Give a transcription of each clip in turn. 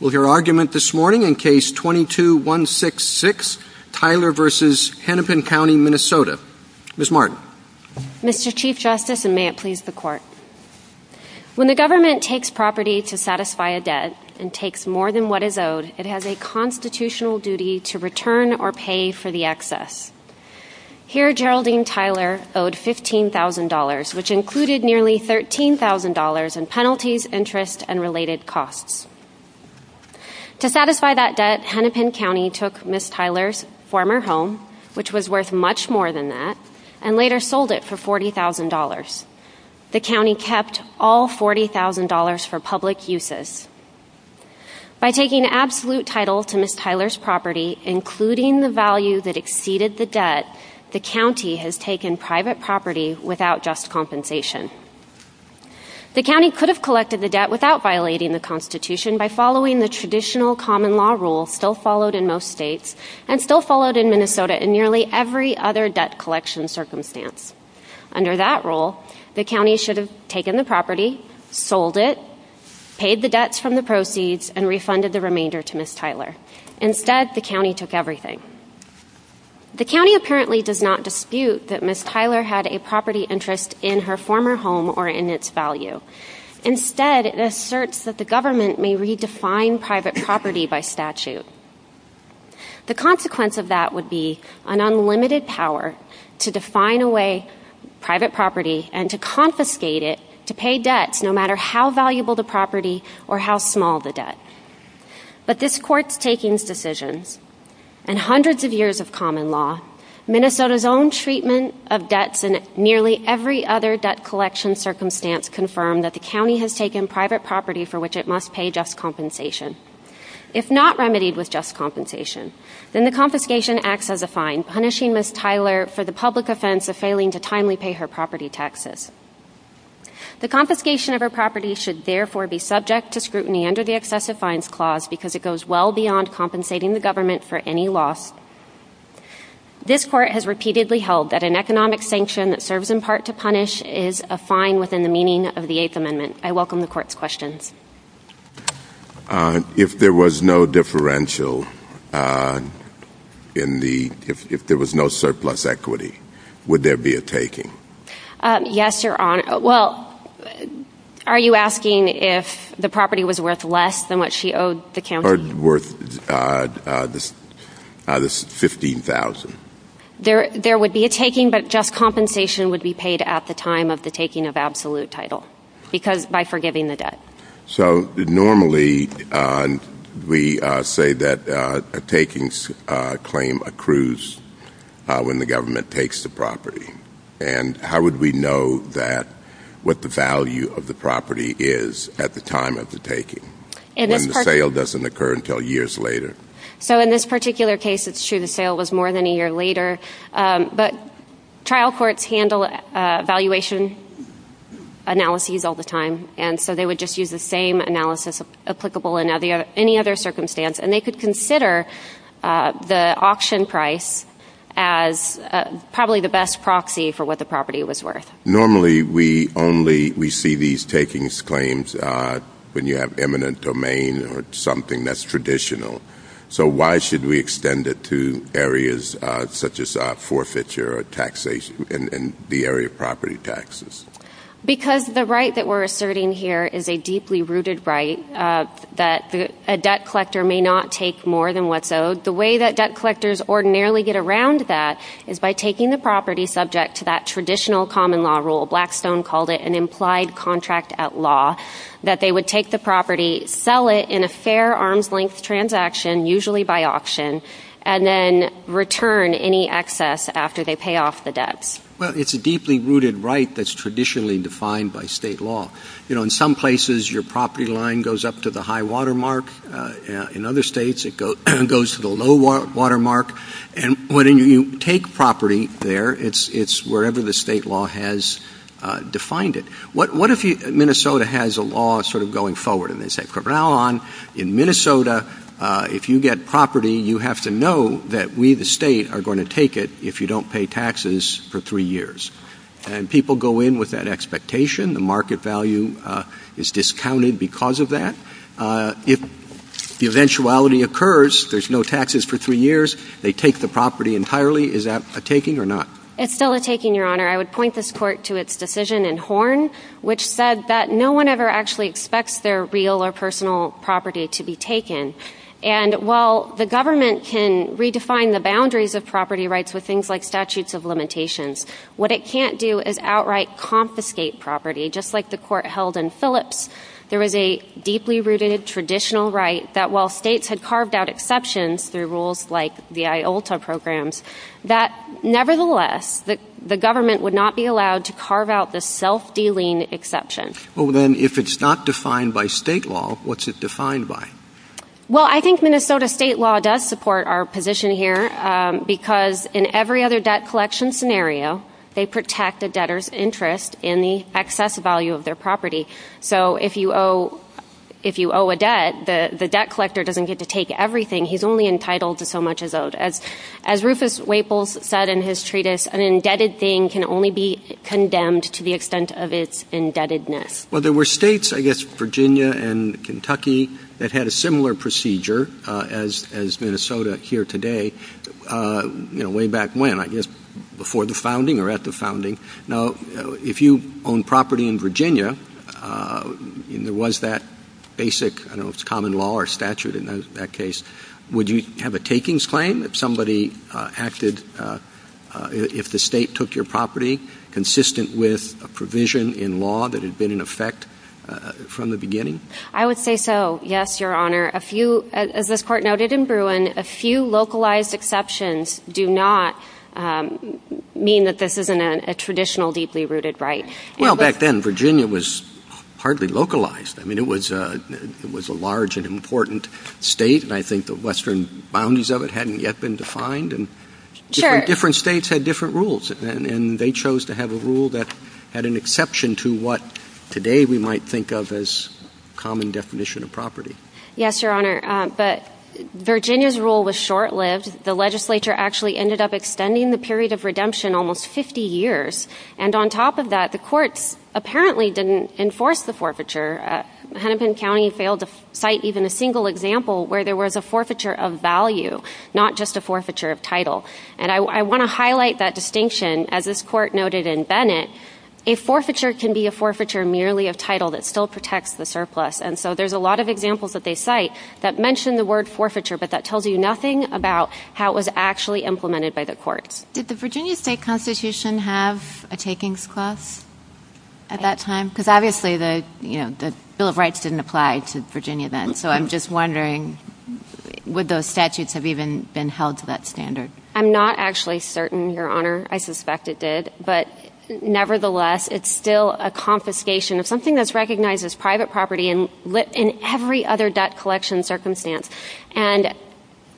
When the government takes property to satisfy a debt, and takes more than what is owed, it has a constitutional duty to return or pay for the excess. Here, Geraldine Tyler owed $15,000, which included nearly $13,000 in penalties, interest, and related costs. To satisfy that debt, Hennepin County took Ms. Tyler's former home, which was worth much more than that, and later sold it for $40,000. The county kept all $40,000 for public uses. By taking absolute title to Ms. Tyler's property, including the value that exceeded the debt, the county has taken private property without just compensation. The county could have collected the debt without violating the Constitution by following the traditional common law rule still followed in most states, and still followed in Minnesota in nearly every other debt collection circumstance. Under that rule, the county should have taken the property, sold it, paid the debts from the proceeds, and refunded the remainder to Ms. Tyler. Instead, the county took everything. The county apparently does not dispute that Ms. Tyler had a property interest in her former home or in its value. Instead, it asserts that the government may redefine private property by statute. The consequence of that would be an unlimited power to define away private property and to confiscate it to pay debts no matter how valuable the property or how small the debt. But this Court's takings decision, and hundreds of years of common law, Minnesota's own treatment of debts and nearly every other debt collection circumstance confirm that the county has taken private property for which it must pay just compensation. If not remedied with just compensation, then the confiscation acts as a fine, punishing Ms. Tyler for the public offense of failing to timely pay her property taxes. The confiscation of her property should therefore be subject to scrutiny under the Excessive Fines Clause because it goes well beyond compensating the government for any loss. This Court has repeatedly held that an economic sanction that serves in part to punish is a fine within the meaning of the Eighth Amendment. I welcome the Court's questions. If there was no differential, if there was no surplus equity, would there be a taking? Yes, Your Honor. Well, are you asking if the property was worth less than what she owed the county? Or worth the $15,000? There would be a taking, but just compensation would be paid at the time of the taking of absolute title by forgiving the debt. So normally we say that a takings claim accrues when the government takes the property. And how would we know what the value of the property is at the time of the taking, when the sale doesn't occur until years later? So in this particular case, it's true the sale was more than a year later. But trial courts handle valuation analyses all the time, and so they would just use the same analysis applicable in any other circumstance. And they could consider the auction price as probably the best proxy for what the property was worth. Normally we only see these takings claims when you have eminent domain or something that's traditional. So why should we extend it to areas such as forfeiture or taxation in the area of property taxes? Because the right that we're asserting here is a deeply rooted right that a debt collector may not take more than what's owed. So the way that debt collectors ordinarily get around that is by taking the property subject to that traditional common law rule. Blackstone called it an implied contract at law, that they would take the property, sell it in a fair arms-length transaction, usually by auction, and then return any excess after they pay off the debt. But it's a deeply rooted right that's traditionally defined by state law. In some places, your property line goes up to the high watermark. In other states, it goes to the low watermark. And when you take property there, it's wherever the state law has defined it. What if Minnesota has a law sort of going forward? And they say, from now on, in Minnesota, if you get property, you have to know that we, the state, are going to take it if you don't pay taxes for three years. And people go in with that expectation. The market value is discounted because of that. If the eventuality occurs, there's no taxes for three years, they take the property entirely. Is that a taking or not? It's still a taking, Your Honor. I would point this court to its decision in Horn, which said that no one ever actually expects their real or personal property to be taken. And while the government can redefine the boundaries of property rights with things like statutes of limitations, what it can't do is outright confiscate property, just like the court held in Phillips. There is a deeply rooted traditional right that while states had carved out exceptions through rules like the IOLTA programs, that nevertheless, the government would not be allowed to carve out the self-dealing exception. Well, then, if it's not defined by state law, what's it defined by? Well, I think Minnesota state law does support our position here because in every other debt collection scenario, they protect the debtor's interest in the excess value of their property. So if you owe a debt, the debt collector doesn't get to take everything. As Rufus Waples said in his treatise, an indebted thing can only be condemned to the extent of its indebtedness. Well, there were states, I guess, Virginia and Kentucky, that had a similar procedure as Minnesota here today, way back when, I guess, before the founding or at the founding. Now, if you own property in Virginia, and there was that basic common law or statute in that case, would you have a takings claim that somebody acted, if the state took your property, consistent with a provision in law that had been in effect from the beginning? I would say so, yes, Your Honor. As this Court noted in Bruin, a few localized exceptions do not mean that this isn't a traditional deeply rooted right. Well, back then, Virginia was hardly localized. I mean, it was a large and important state, and I think the western boundaries of it hadn't yet been defined. Different states had different rules, and they chose to have a rule that had an exception to what, today, we might think of as common definition of property. Yes, Your Honor, but Virginia's rule was short-lived. The legislature actually ended up extending the period of redemption almost 50 years, and on top of that, the courts apparently didn't enforce the forfeiture. Hennepin County failed to cite even a single example where there was a forfeiture of value, not just a forfeiture of title, and I want to highlight that distinction. As this Court noted in Bennett, a forfeiture can be a forfeiture merely of title that still protects the surplus, and so there's a lot of examples that they cite that mention the word forfeiture, but that tells you nothing about how it was actually implemented by the Court. Did the Virginia State Constitution have a takings clause at that time? Because, obviously, the Bill of Rights didn't apply to Virginia then, so I'm just wondering, would those statutes have even been held to that standard? I'm not actually certain, Your Honor. I suspect it did, but nevertheless, it's still a confiscation. It's something that's recognized as private property in every other debt collection circumstance, and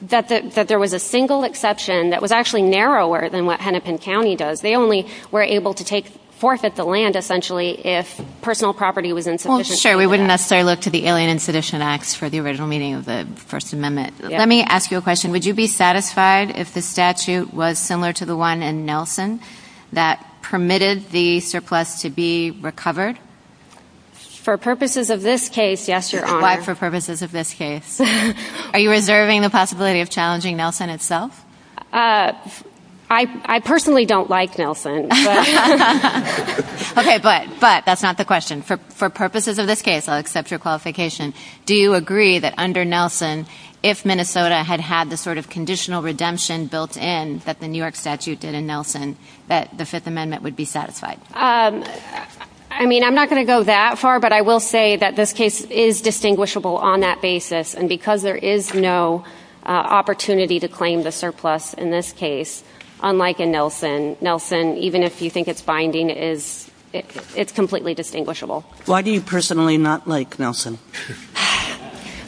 that there was a single exception that was actually narrower than what Hennepin County does. They only were able to take forfeit the land, essentially, if personal property was insufficient. Well, sure, we wouldn't necessarily look to the Alien and Sedition Acts for the original meaning of the First Amendment. Let me ask you a question. Would you be satisfied if the statute was similar to the one in Nelson that permitted the surplus to be recovered? For purposes of this case, yes, Your Honor. For purposes of this case. Are you reserving the possibility of challenging Nelson itself? I personally don't like Nelson. Okay, but that's not the question. For purposes of this case, I'll accept your qualification. Do you agree that under Nelson, if Minnesota had had the sort of conditional redemption built in that the New York statute did in Nelson, that the Fifth Amendment would be satisfied? I mean, I'm not going to go that far, but I will say that this case is distinguishable on that basis. And because there is no opportunity to claim the surplus in this case, unlike in Nelson, Nelson, even if you think it's binding, it's completely distinguishable. Why do you personally not like Nelson?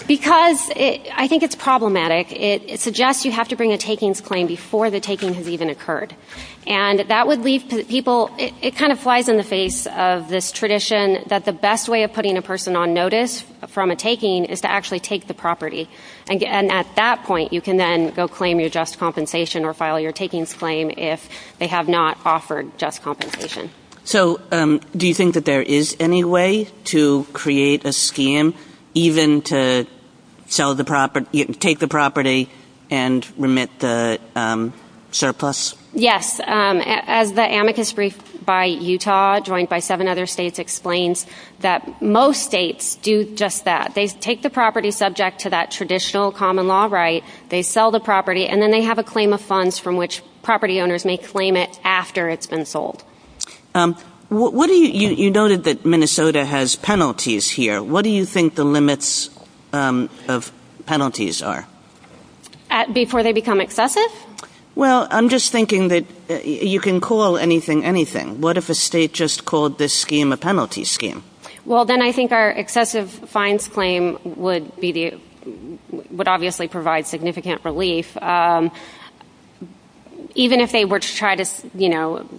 Because I think it's problematic. It suggests you have to bring a takings claim before the taking has even occurred. And that would leave people, it kind of flies in the face of this tradition that the best way of putting a person on notice from a taking is to actually take the property. And at that point, you can then go claim your just compensation or file your takings claim if they have not offered just compensation. So, do you think that there is any way to create a scam even to take the property and remit the surplus? Yes. As the amicus brief by Utah, joined by seven other states, explains that most states do just that. They take the property subject to that traditional common law right, they sell the property, and then they have a claim of funds from which property owners may claim it after it's been sold. You noted that Minnesota has penalties here. What do you think the limits of penalties are? Before they become excessive? Well, I'm just thinking that you can call anything anything. What if a state just called this scheme a penalty scheme? Well, then I think our excessive fines claim would obviously provide significant relief. Even if they were to try to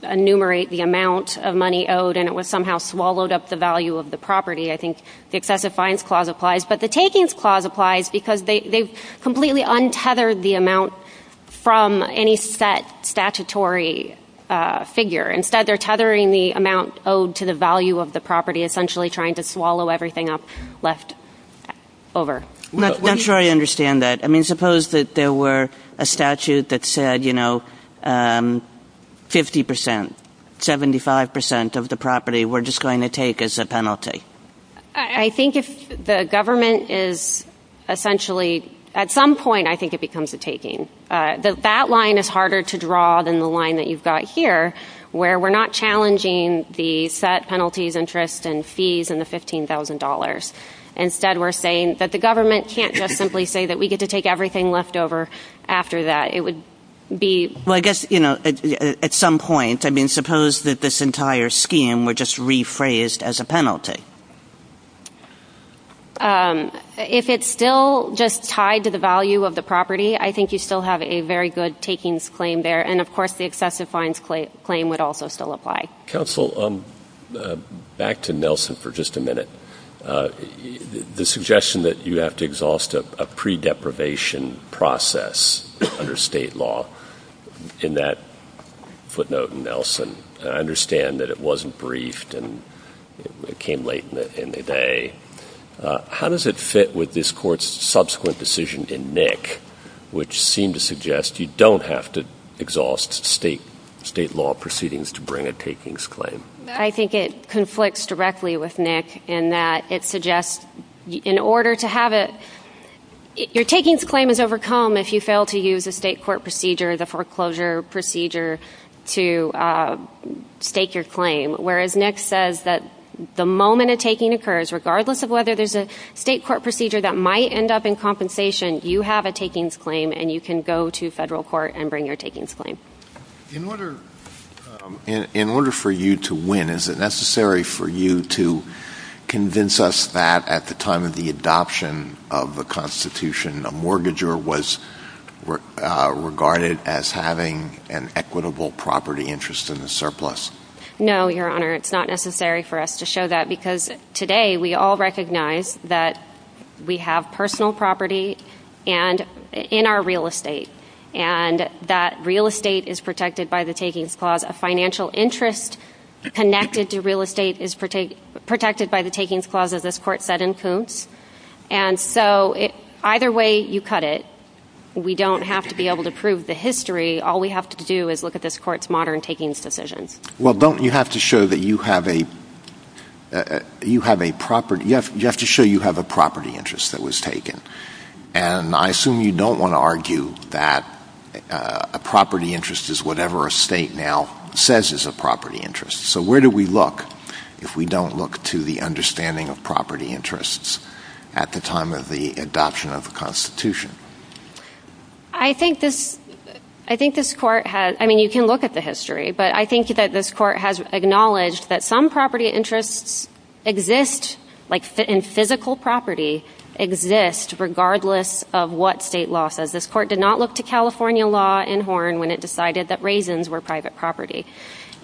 enumerate the amount of money owed and it was somehow swallowed up the value of the property, I think the excessive fines clause applies. But the takings clause applies because they've completely untethered the amount from any set statutory figure. Instead, they're tethering the amount owed to the value of the property, essentially trying to swallow everything up left over. I'm not sure I understand that. I mean, suppose that there were a statute that said, you know, 50%, 75% of the property we're just going to take as a penalty. I think if the government is essentially, at some point, I think it becomes a taking. That line is harder to draw than the line that you've got here, where we're not challenging the set penalties, interests, and fees and the $15,000. Instead, we're saying that the government can't just simply say that we get to take everything left over after that. It would be... Well, I guess, you know, at some point, I mean, suppose that this entire scheme were just rephrased as a penalty. If it's still just tied to the value of the property, I think you still have a very good takings claim there. And, of course, the excessive fines claim would also still apply. Counsel, back to Nelson for just a minute. The suggestion that you have to exhaust a pre-deprivation process under state law, in that footnote in Nelson, and I understand that it wasn't briefed and it came late in the day. How does it fit with this court's subsequent decision in Nick, which seemed to suggest you don't have to exhaust state law proceedings to bring a takings claim? I think it conflicts directly with Nick in that it suggests, in order to have it... Your takings claim is overcome if you fail to use a state court procedure, the foreclosure procedure, to stake your claim. Whereas Nick says that the moment a taking occurs, regardless of whether there's a state court procedure that might end up in compensation, you have a takings claim and you can go to federal court and bring your takings claim. In order for you to win, is it necessary for you to convince us that at the time of the adoption of the Constitution, a mortgager was regarded as having an equitable property interest in the surplus? No, Your Honor, it's not necessary for us to show that because today we all recognize that we have personal property in our real estate. And that real estate is protected by the takings clause. A financial interest connected to real estate is protected by the takings clause, as this court said in Coons. And so, either way you cut it, we don't have to be able to prove the history. All we have to do is look at this court's modern takings decision. Well, don't you have to show that you have a property interest that was taken? And I assume you don't want to argue that a property interest is whatever a state now says is a property interest. So where do we look if we don't look to the understanding of property interests at the time of the adoption of the Constitution? I think this court has, I mean you can look at the history, but I think that this court has acknowledged that some property interests exist, like in physical property, exist regardless of what state law says. This court did not look to California law in Horn when it decided that raisins were private property.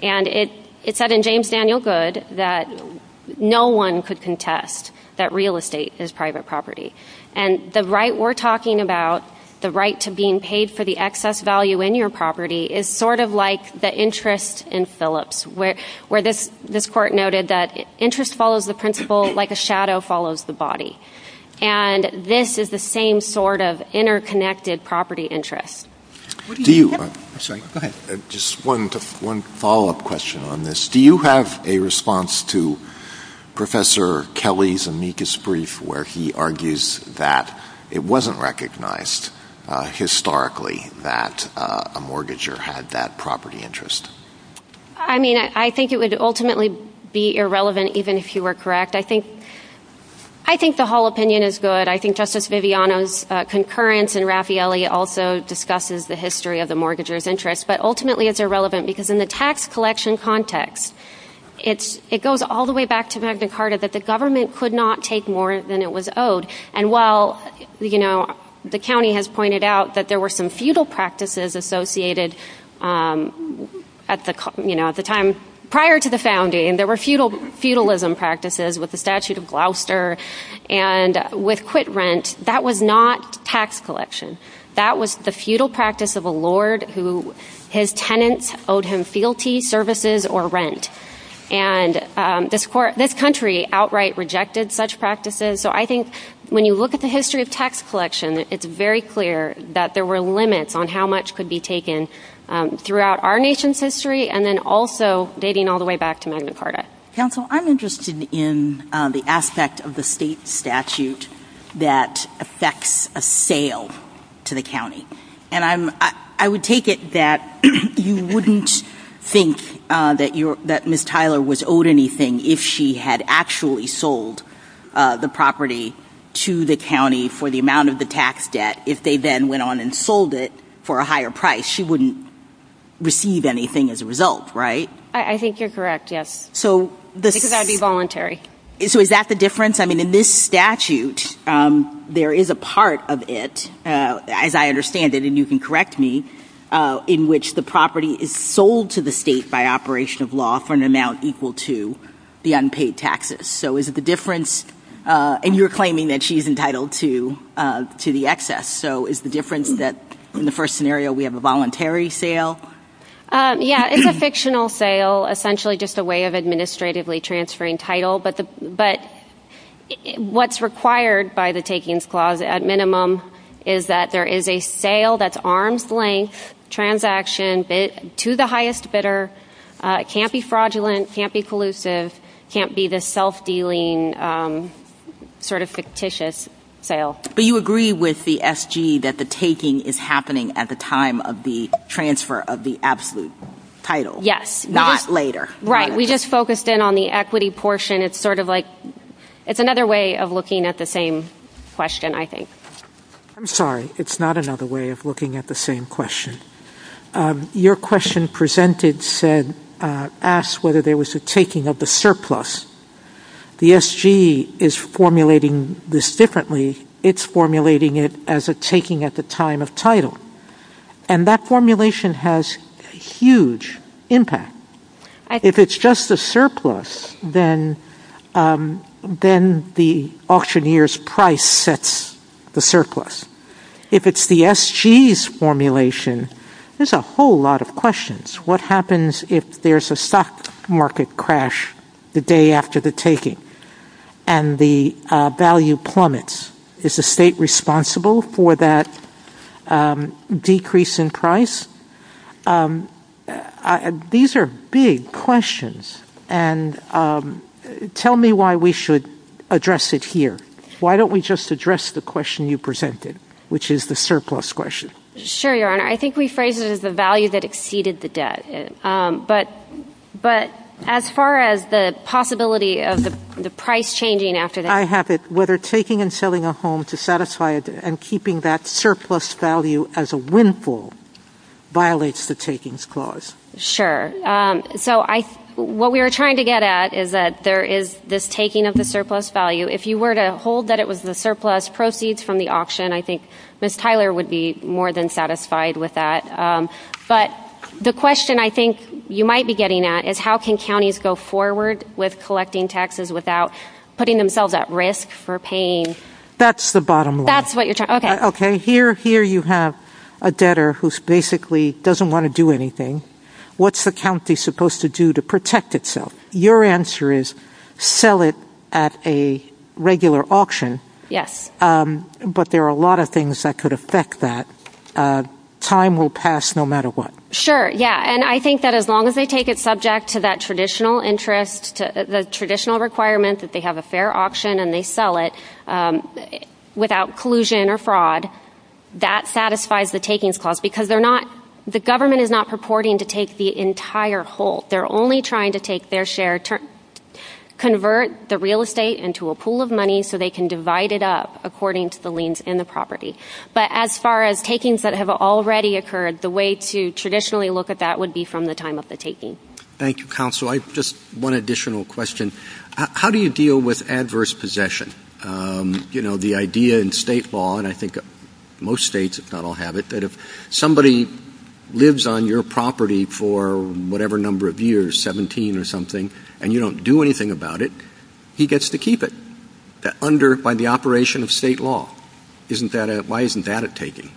And it said in James Daniel Goode that no one could contest that real estate is private property. And the right we're talking about, the right to being paid for the excess value in your property, is sort of like the interest in Phillips, where this court noted that interest follows the principle like a shadow follows the body. And this is the same sort of interconnected property interest. Just one follow-up question on this. Do you have a response to Professor Kelly's amicus brief where he argues that it wasn't recognized historically that a mortgager had that property interest? I mean, I think it would ultimately be irrelevant even if you were correct. I think the whole opinion is good. I think Justice Viviano's concurrence in Raffaelli also discusses the history of the mortgager's interest, but ultimately it's irrelevant because in the tax collection context, it goes all the way back to Magna Carta, but the government could not take more than it was owed. And while, you know, the county has pointed out that there were some feudal practices associated at the time prior to the founding, there were feudalism practices with the statute of Gloucester, and with quit rent, that was not tax collection. That was the feudal practice of a lord who his tenants owed him fealty services or rent. And this country outright rejected such practices. So I think when you look at the history of tax collection, it's very clear that there were limits on how much could be taken throughout our nation's history and then also dating all the way back to Magna Carta. Counsel, I'm interested in the aspect of the state statute that affects a sale to the county. And I would take it that you wouldn't think that Ms. Tyler was owed anything if she had actually sold the property to the county for the amount of the tax debt. If they then went on and sold it for a higher price, she wouldn't receive anything as a result, right? I think you're correct, yes. Because that would be voluntary. So is that the difference? I mean, in this statute, there is a part of it, as I understand it, and you can correct me, in which the property is sold to the state by operation of law for an amount equal to the unpaid taxes. So is it the difference? And you're claiming that she's entitled to the excess. So is the difference that in the first scenario we have a voluntary sale? Yeah, it's a fictional sale, essentially just a way of administratively transferring title. But what's required by the Takings Clause, at minimum, is that there is a sale that's arm's length, transaction to the highest bidder, can't be fraudulent, can't be collusive, can't be the self-dealing sort of fictitious sale. But you agree with the SG that the taking is happening at the time of the transfer of the absolute title? Yes. Not later. Right. We just focused in on the equity portion. It's sort of like it's another way of looking at the same question, I think. I'm sorry. It's not another way of looking at the same question. Your question asked whether there was a taking of the surplus. The SG is formulating this differently. It's formulating it as a taking at the time of title. And that formulation has huge impact. If it's just the surplus, then the auctioneer's price sets the surplus. If it's the SG's formulation, there's a whole lot of questions. What happens if there's a stock market crash the day after the taking and the value plummets? Is the state responsible for that decrease in price? These are big questions. And tell me why we should address it here. Why don't we just address the question you presented, which is the surplus question? Sure, Your Honor. I think we phrased it as the value that exceeded the debt. But as far as the possibility of the price changing after that. I have it. Whether taking and selling a home to satisfy and keeping that surplus value as a windfall violates the takings clause. Sure. So what we were trying to get at is that there is this taking of the surplus value. If you were to hold that it was the surplus proceeds from the auction, I think Ms. Tyler would be more than satisfied with that. But the question I think you might be getting at is how can counties go forward with collecting taxes without putting themselves at risk for paying? That's the bottom line. That's what you're talking about. Okay. Here you have a debtor who basically doesn't want to do anything. What's the county supposed to do to protect itself? Your answer is sell it at a regular auction. Yes. But there are a lot of things that could affect that. Time will pass no matter what. Sure, yeah. And I think that as long as they take it subject to that traditional interest, the traditional requirements that they have a fair auction and they sell it without collusion or fraud, that satisfies the takings clause. Because the government is not purporting to take the entire whole. They're only trying to take their share, convert the real estate into a pool of money so they can divide it up according to the liens in the property. But as far as takings that have already occurred, the way to traditionally look at that would be from the time of the taking. Thank you, counsel. Just one additional question. How do you deal with adverse possession? You know, the idea in state law, and I think most states don't have it, that if somebody lives on your property for whatever number of years, 17 or something, and you don't do anything about it, he gets to keep it. Under the operation of state law. Why isn't that a taking?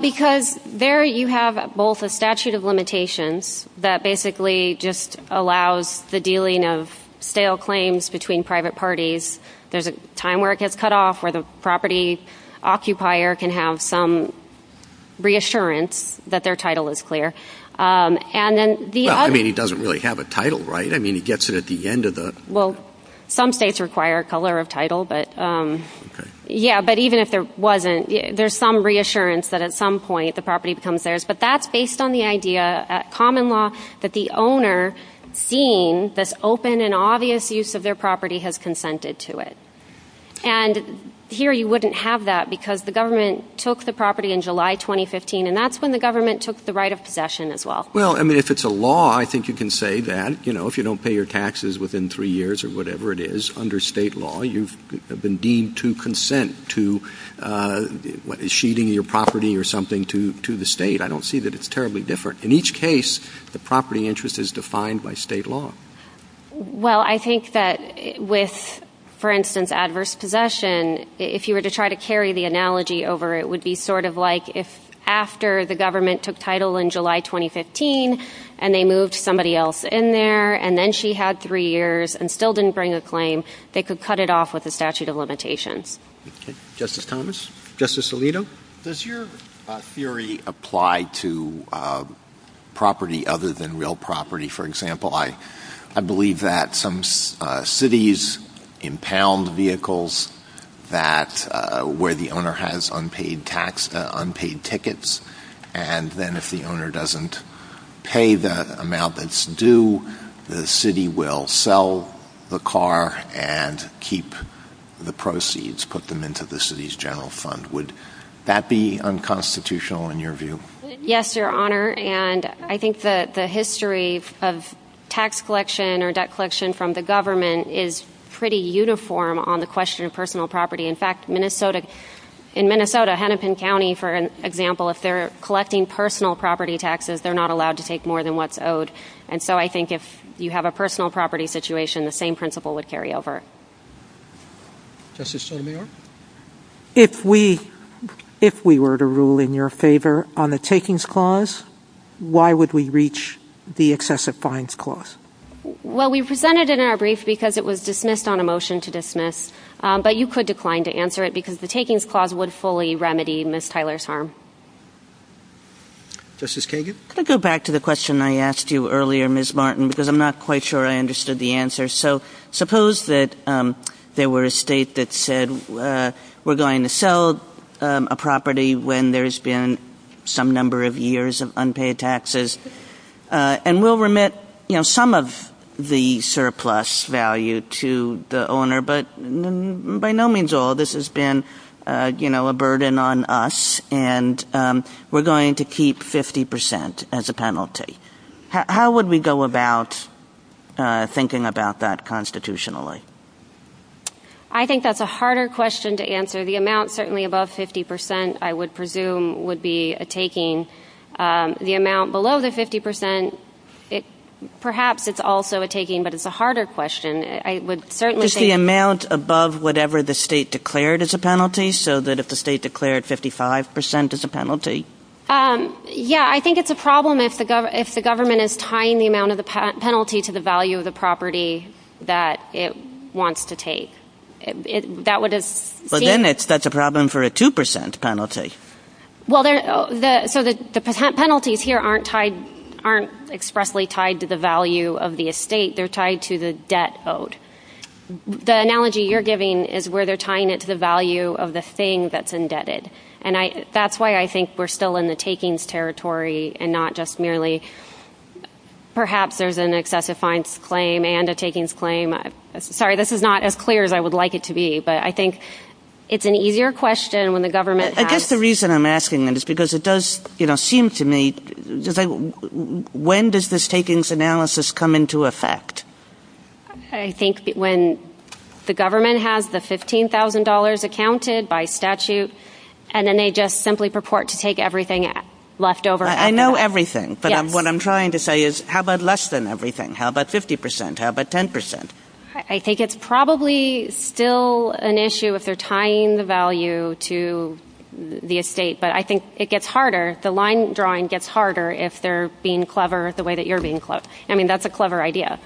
Because there you have both a statute of limitations that basically just allows the dealing of stale claims between private parties. There's a time where it gets cut off, where the property occupier can have some reassurance that their title is clear. I mean, he doesn't really have a title, right? I mean, he gets it at the end of the... Yeah, but even if there wasn't, there's some reassurance that at some point the property becomes theirs. But that's based on the idea at common law that the owner, seeing this open and obvious use of their property, has consented to it. And here you wouldn't have that because the government took the property in July 2015, and that's when the government took the right of possession as well. Well, I mean, if it's a law, I think you can say that. You know, if you don't pay your taxes within three years or whatever it is, under state law, you've been deemed to consent to sheathing your property or something to the state. I don't see that it's terribly different. In each case, the property interest is defined by state law. Well, I think that with, for instance, adverse possession, if you were to try to carry the analogy over, it would be sort of like if after the government took title in July 2015, and they moved somebody else in there, and then she had three years and still didn't bring a claim, they could cut it off with a statute of limitations. Justice Thomas? Justice Alito? Does your theory apply to property other than real property? For example, I believe that some cities impound vehicles where the owner has unpaid tickets, and then if the owner doesn't pay the amount that's due, the city will sell the car and keep the proceeds, put them into the city's general fund. Would that be unconstitutional in your view? Yes, Your Honor. And I think that the history of tax collection or debt collection from the government is pretty uniform on the question of personal property. In fact, in Minnesota, Hennepin County, for example, if they're collecting personal property taxes, they're not allowed to take more than what's owed. And so I think if you have a personal property situation, the same principle would carry over. Justice O'Meara? If we were to rule in your favor on the takings clause, why would we reach the excessive fines clause? Well, we presented it in our brief because it was dismissed on a motion to dismiss, but you could decline to answer it because the takings clause would fully remedy Ms. Tyler's harm. Justice Kagan? I'll go back to the question I asked you earlier, Ms. Martin, because I'm not quite sure I understood the answer. So suppose that there were a state that said we're going to sell a property when there's been some number of years of unpaid taxes, and we'll remit some of the surplus value to the owner, but by no means all. This has been a burden on us, and we're going to keep 50% as a penalty. How would we go about thinking about that constitutionally? I think that's a harder question to answer. The amount certainly above 50%, I would presume, would be a taking. The amount below the 50%, perhaps it's also a taking, but it's a harder question. Is the amount above whatever the state declared as a penalty, so that if the state declared 55% as a penalty? Yeah, I think it's a problem if the government is tying the amount of the penalty to the value of the property that it wants to take. But then that's a problem for a 2% penalty. So the penalties here aren't expressly tied to the value of the estate, they're tied to the debt owed. The analogy you're giving is where they're tying it to the value of the thing that's indebted. And that's why I think we're still in the takings territory and not just merely perhaps there's an excessive fines claim and a takings claim. Sorry, this is not as clear as I would like it to be, but I think it's an easier question when the government has... I guess the reason I'm asking that is because it does seem to me, when does this takings analysis come into effect? I think when the government has the $15,000 accounted by statute, and then they just simply purport to take everything left over. I know everything, but what I'm trying to say is how about less than everything? How about 50%, how about 10%? I think it's probably still an issue if they're tying the value to the estate. But I think it gets harder, the line drawing gets harder if they're being clever the way that you're being clever. I mean, that's a clever idea.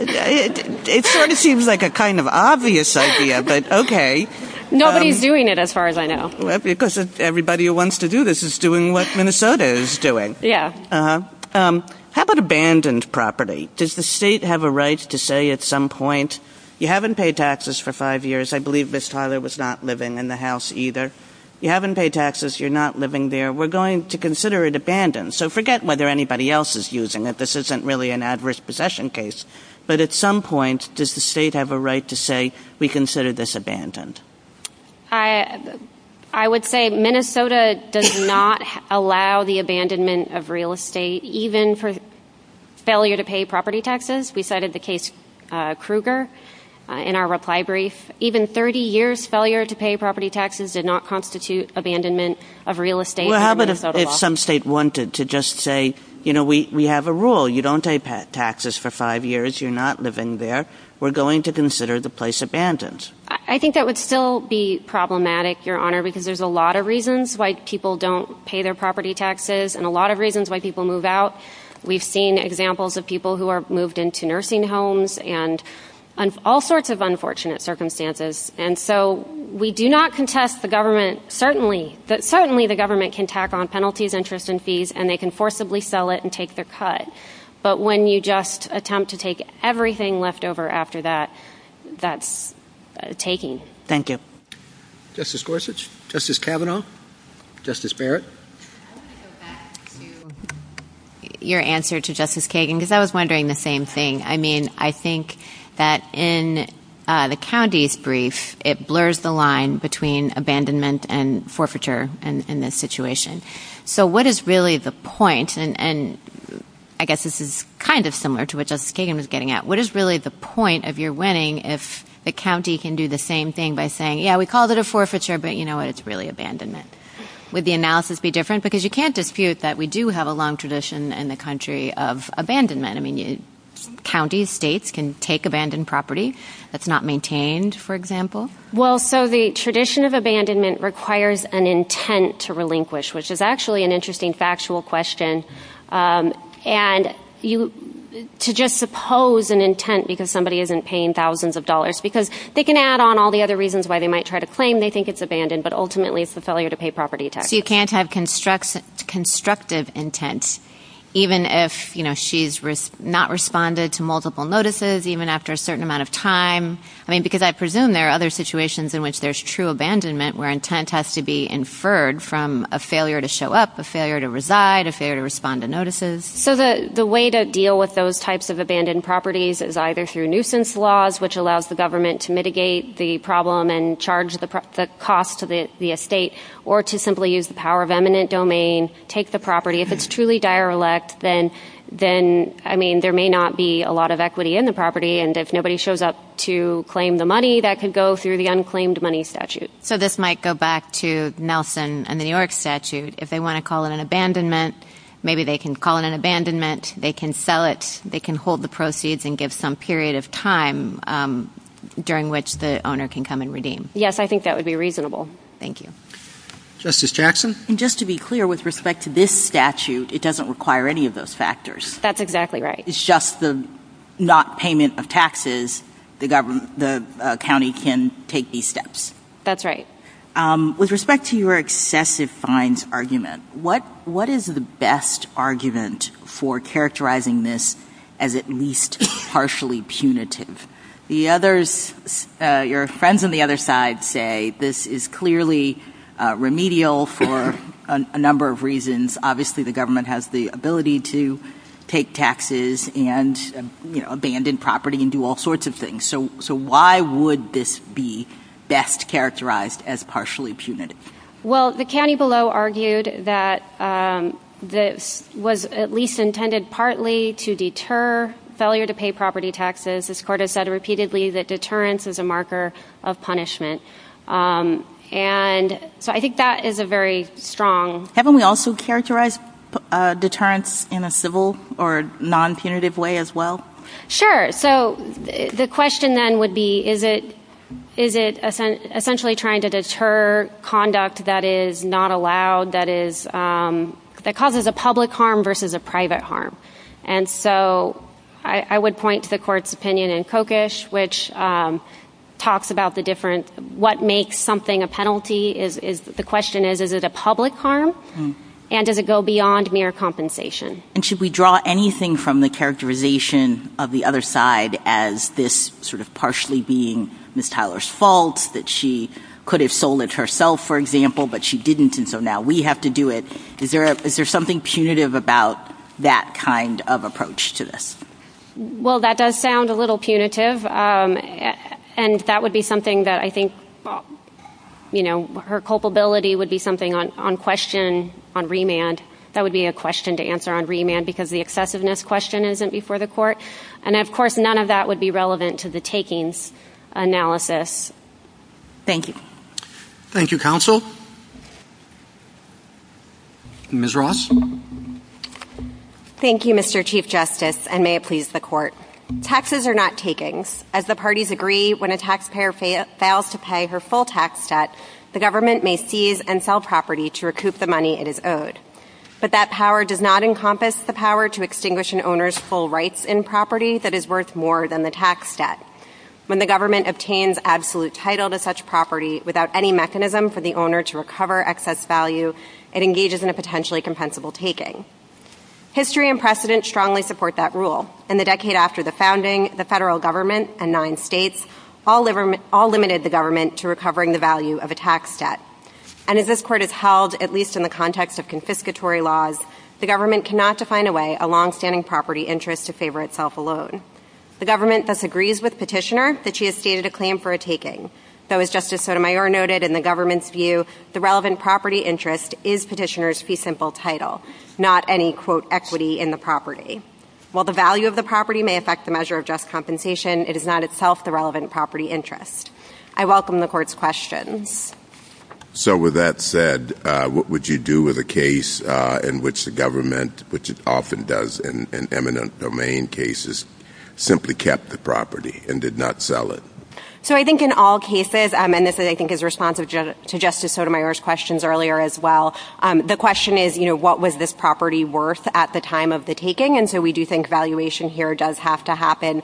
It sort of seems like a kind of obvious idea, but okay. Nobody's doing it as far as I know. Well, because everybody who wants to do this is doing what Minnesota is doing. Yeah. How about abandoned property? Does the state have a right to say at some point, you haven't paid taxes for five years, I believe Ms. Tyler was not living in the house either. You haven't paid taxes, you're not living there, we're going to consider it abandoned. So forget whether anybody else is using it. This isn't really an adverse possession case. But at some point, does the state have a right to say we consider this abandoned? I would say Minnesota does not allow the abandonment of real estate, even for failure to pay property taxes. We cited the case Kruger in our reply brief. Even 30 years' failure to pay property taxes did not constitute abandonment of real estate. Well, how about if some state wanted to just say, you know, we have a rule. You don't pay taxes for five years, you're not living there, we're going to consider the place abandoned. I think that would still be problematic, Your Honor, because there's a lot of reasons why people don't pay their property taxes and a lot of reasons why people move out. We've seen examples of people who are moved into nursing homes and all sorts of unfortunate circumstances. And so we do not contest the government. Certainly the government can tack on penalties, interest, and fees, and they can forcibly sell it and take their cut. But when you just attempt to take everything left over after that, that's taking. Thank you. Justice Gorsuch, Justice Kavanaugh, Justice Barrett. Your answer to Justice Kagan, because I was wondering the same thing. I mean, I think that in the county's brief, it blurs the line between abandonment and forfeiture in this situation. So what is really the point? And I guess this is kind of similar to what Justice Kagan was getting at. What is really the point of your winning if the county can do the same thing by saying, yeah, we called it a forfeiture, but, you know, it's really abandonment? Would the analysis be different? Because you can't dispute that we do have a long tradition in the country of abandonment. I mean, counties, states can take abandoned property that's not maintained, for example. Well, so the tradition of abandonment requires an intent to relinquish, which is actually an interesting factual question. And to just suppose an intent because somebody isn't paying thousands of dollars, because they can add on all the other reasons why they might try to claim they think it's abandoned, but ultimately it's a failure to pay property taxes. But if you can't have constructive intent, even if, you know, she's not responded to multiple notices, even after a certain amount of time. I mean, because I presume there are other situations in which there's true abandonment where intent has to be inferred from a failure to show up, a failure to reside, a failure to respond to notices. So the way to deal with those types of abandoned properties is either through nuisance laws, which allows the government to mitigate the problem and charge the cost to the estate, or to simply use the power of eminent domain, take the property. If it's truly dire elect, then, I mean, there may not be a lot of equity in the property, and if nobody shows up to claim the money, that could go through the unclaimed money statute. So this might go back to Nelson and the New York statute. If they want to call it an abandonment, maybe they can call it an abandonment. They can sell it. They can hold the proceeds and give some period of time during which the owner can come and redeem. Yes, I think that would be reasonable. Thank you. Justice Jackson? Just to be clear, with respect to this statute, it doesn't require any of those factors. That's exactly right. It's just the not payment of taxes. The county can take these steps. That's right. With respect to your excessive fines argument, what is the best argument for characterizing this as at least partially punitive? Your friends on the other side say this is clearly remedial for a number of reasons. Obviously, the government has the ability to take taxes and, you know, abandon property and do all sorts of things. So why would this be best characterized as partially punitive? Well, the county below argued that this was at least intended partly to deter failure to pay property taxes. As this court has said repeatedly, that deterrence is a marker of punishment. And so I think that is a very strong. Haven't we also characterized deterrence in a civil or non-punitive way as well? Sure. So the question then would be, is it essentially trying to deter conduct that is not allowed, that causes a public harm versus a private harm? And so I would point to the court's opinion in Kokish, which talks about the difference. What makes something a penalty? The question is, is it a public harm? And does it go beyond mere compensation? And should we draw anything from the characterization of the other side as this sort of partially being Ms. Tyler's fault, that she could have sold it herself, for example, but she didn't, and so now we have to do it? Is there something punitive about that kind of approach to this? Well, that does sound a little punitive. And that would be something that I think, you know, her culpability would be something on question on remand. That would be a question to answer on remand because the excessiveness question isn't before the court. And, of course, none of that would be relevant to the taking analysis. Thank you. Thank you, counsel. Ms. Ross? Thank you, Mr. Chief Justice, and may it please the court. Taxes are not takings. As the parties agree, when a taxpayer fails to pay her full tax debt, the government may seize and sell property to recoup the money it has owed. But that power does not encompass the power to extinguish an owner's full rights in property that is worth more than the tax debt. When the government obtains absolute title to such property without any mechanism for the owner to recover excess value, it engages in a potentially compensable taking. History and precedent strongly support that rule, and the decade after the founding, the federal government and nine states all limited the government to recovering the value of a tax debt. And as this court has held, at least in the context of confiscatory laws, the government cannot define away a longstanding property interest to favor itself alone. The government thus agrees with Petitioner that she has stated a claim for a taking. Though, as Justice Sotomayor noted in the government's view, the relevant property interest is Petitioner's fee simple title, not any, quote, equity in the property. While the value of the property may affect the measure of just compensation, it is not itself the relevant property interest. I welcome the court's question. So with that said, what would you do with a case in which the government, which it often does in eminent domain cases, simply kept the property and did not sell it? So I think in all cases, and this I think is responsive to Justice Sotomayor's questions earlier as well, the question is, you know, what was this property worth at the time of the taking? And so we do think valuation here does have to happen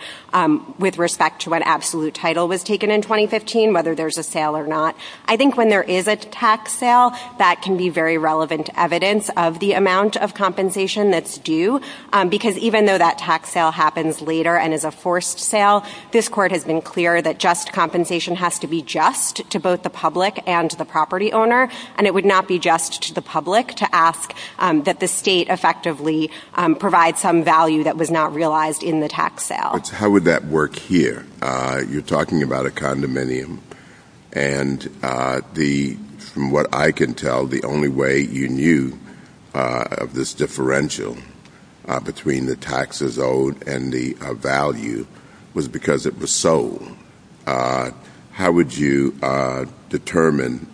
with respect to when absolute title was taken in 2015, whether there's a sale or not. I think when there is a tax sale, that can be very relevant evidence of the amount of compensation that's due. Because even though that tax sale happens later and is a forced sale, this court has been clear that just compensation has to be just to both the public and the property owner. And it would not be just to the public to ask that the state effectively provide some value that was not realized in the tax sale. How would that work here? You're talking about a condominium. And from what I can tell, the only way you knew of this differential between the taxes owed and the value was because it was sold. How would you determine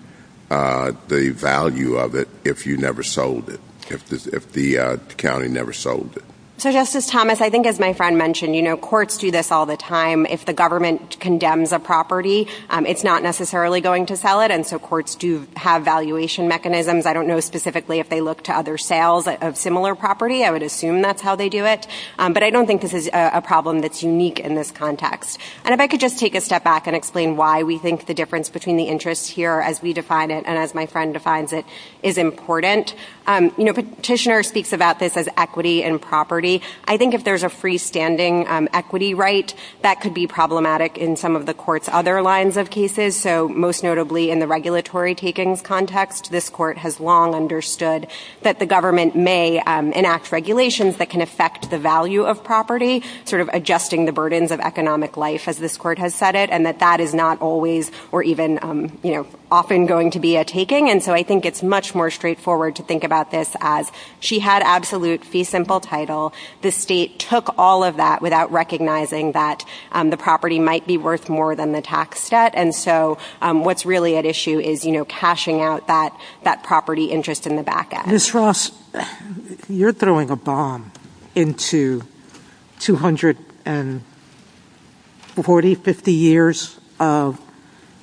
the value of it if you never sold it, if the county never sold it? So Justice Thomas, I think as my friend mentioned, you know, courts do this all the time. If the government condemns a property, it's not necessarily going to sell it. And so courts do have valuation mechanisms. I don't know specifically if they look to other sales of similar property. I would assume that's how they do it. But I don't think this is a problem that's unique in this context. And if I could just take a step back and explain why we think the difference between the interests here as we define it and as my friend defines it is important. You know, Petitioner speaks about this as equity and property. I think if there's a freestanding equity right, that could be problematic in some of the court's other lines of cases. So most notably in the regulatory takings context, this court has long understood that the government may enact regulations that can affect the value of property, sort of adjusting the burdens of economic life, as this court has said it, and that that is not always or even, you know, often going to be a taking. And so I think it's much more straightforward to think about this as she had absolute fee simple title. The state took all of that without recognizing that the property might be worth more than the tax debt. And so what's really at issue is, you know, cashing out that property interest in the back end. Ms. Ross, you're throwing a bomb into two hundred and forty, fifty years of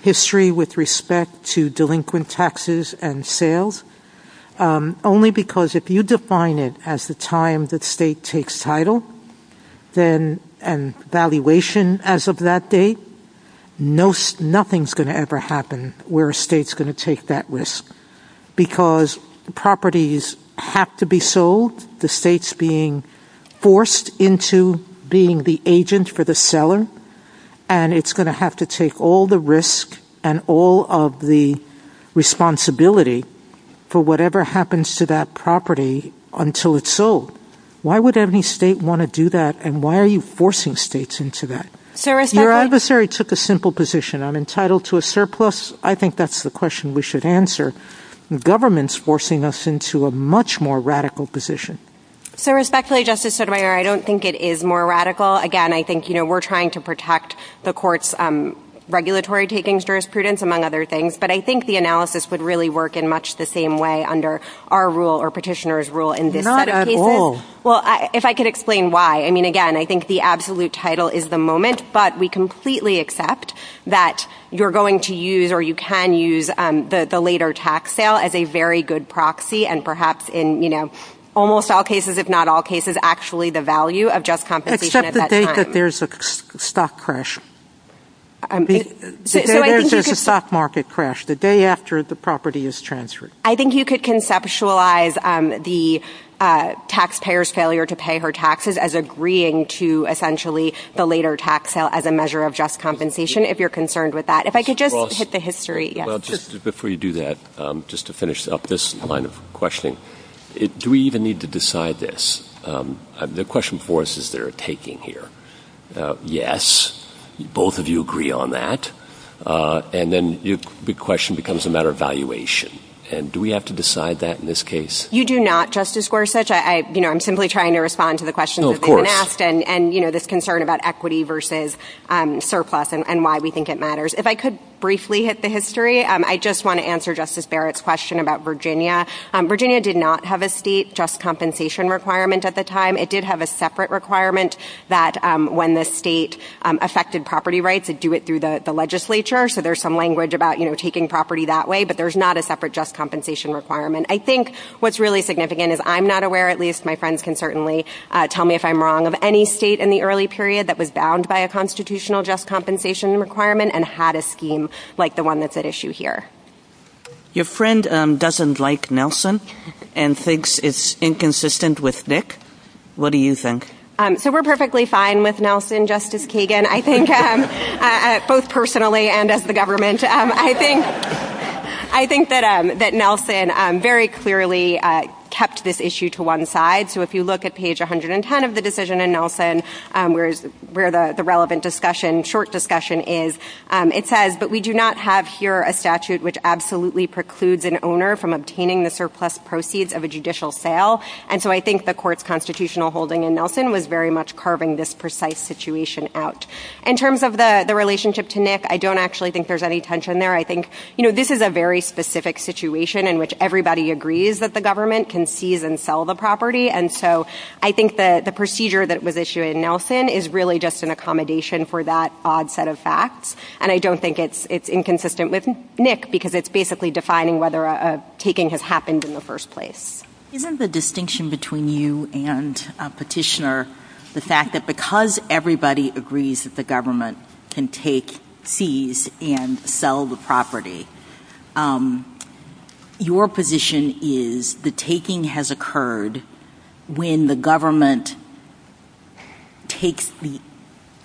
history with respect to delinquent taxes and sales, only because if you define it as the time that state takes title then and valuation as of that date, nothing's going to ever happen where a state's going to take that risk because properties have to be sold. The state's being forced into being the agent for the seller, and it's going to have to take all the risk and all of the responsibility for whatever happens to that property until it's sold. Why would any state want to do that? And why are you forcing states into that? Your adversary took a simple position. I'm entitled to a surplus. I think that's the question we should answer. The government's forcing us into a much more radical position. So respectfully, Justice Sotomayor, I don't think it is more radical. Again, I think, you know, we're trying to protect the court's regulatory taking jurisprudence, among other things. But I think the analysis would really work in much the same way under our rule or petitioner's rule. Not at all. Well, if I could explain why. I mean, again, I think the absolute title is the moment, but we completely accept that you're going to use or you can use the later tax sale as a very good proxy, and perhaps in almost all cases, if not all cases, actually the value of just compensation at that time. Except the day that there's a stock crash. There's a stock market crash the day after the property is transferred. I think you could conceptualize the taxpayer's failure to pay her taxes as agreeing to essentially the later tax sale as a measure of just compensation, if you're concerned with that. If I could just hit the history. Before you do that, just to finish up this line of questioning, do we even need to decide this? The question for us is they're taking here. Yes. Both of you agree on that. And then the question becomes a matter of valuation. And do we have to decide that in this case? You do not, Justice Gorsuch. I, you know, I'm simply trying to respond to the question. And, you know, this concern about equity versus surplus and why we think it matters. If I could briefly hit the history. I just want to answer Justice Barrett's question about Virginia. Virginia did not have a state just compensation requirement at the time. It did have a separate requirement that when the state affected property rights to do it through the legislature. So there's some language about, you know, taking property that way. But there's not a separate just compensation requirement. I think what's really significant is I'm not aware, at least my friends can certainly tell me if I'm wrong, of any state in the early period that was bound by a constitutional just compensation requirement and had a scheme like the one that's at issue here. Your friend doesn't like Nelson and thinks it's inconsistent with Nick. What do you think? So we're perfectly fine with Nelson, Justice Kagan. I think both personally and as the government, I think that Nelson very clearly kept this issue to one side. So if you look at page 110 of the decision in Nelson, where the relevant discussion, short discussion is, it says, but we do not have here a statute which absolutely precludes an owner from obtaining the surplus proceeds of a judicial sale. And so I think the court's constitutional holding in Nelson was very much carving this precise situation out. In terms of the relationship to Nick, I don't actually think there's any tension there. I think, you know, this is a very specific situation in which everybody agrees that the government can seize and sell the property. And so I think that the procedure that was issued in Nelson is really just an accommodation for that odd set of facts. And I don't think it's inconsistent with Nick, because it's basically defining whether a taking has happened in the first place. Given the distinction between you and Petitioner, the fact that because everybody agrees that the government can take fees and sell the property, your position is the taking has occurred when the government takes the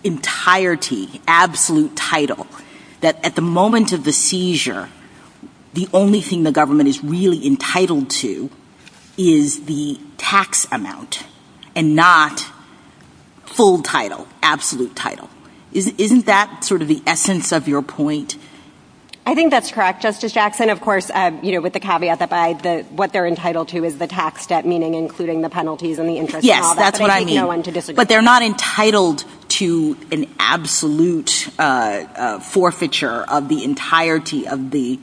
entirety, absolute title, that at the moment of the seizure, the only thing the government is really entitled to is the tax amount and not full title, absolute title. Isn't that sort of the essence of your point? I think that's correct, Justice Jackson. Of course, you know, with the caveat that what they're entitled to is the tax debt, meaning including the penalties and the interest. Yes, that's what I mean. But they're not entitled to an absolute forfeiture of the entirety of the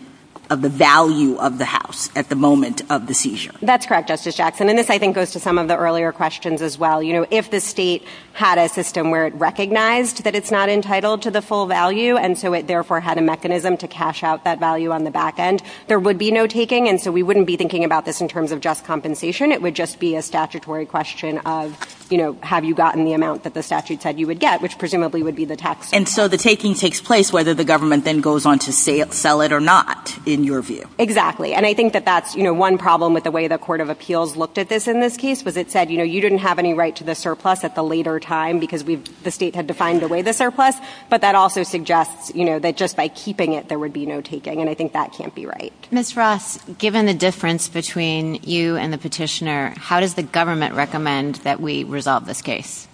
value of the house at the moment of the seizure. That's correct, Justice Jackson. And this, I think, goes to some of the earlier questions as well. You know, if the state had a system where it recognized that it's not entitled to the full value, and so it therefore had a mechanism to cash out that value on the back end, there would be no taking. And so we wouldn't be thinking about this in terms of just compensation. It would just be a statutory question of, you know, have you gotten the amount that the statute said you would get, which presumably would be the tax. And so the taking takes place whether the government then goes on to sell it or not, in your view. Exactly. And I think that that's, you know, one problem with the way the Court of Appeals looked at this in this case was it said, you know, you didn't have any right to the surplus at the later time because the state had defined away the surplus. But that also suggests, you know, that just by keeping it, there would be no taking. And I think that can't be right. Ms. Ross, given the difference between you and the petitioner, how does the government recommend that we resolve this case?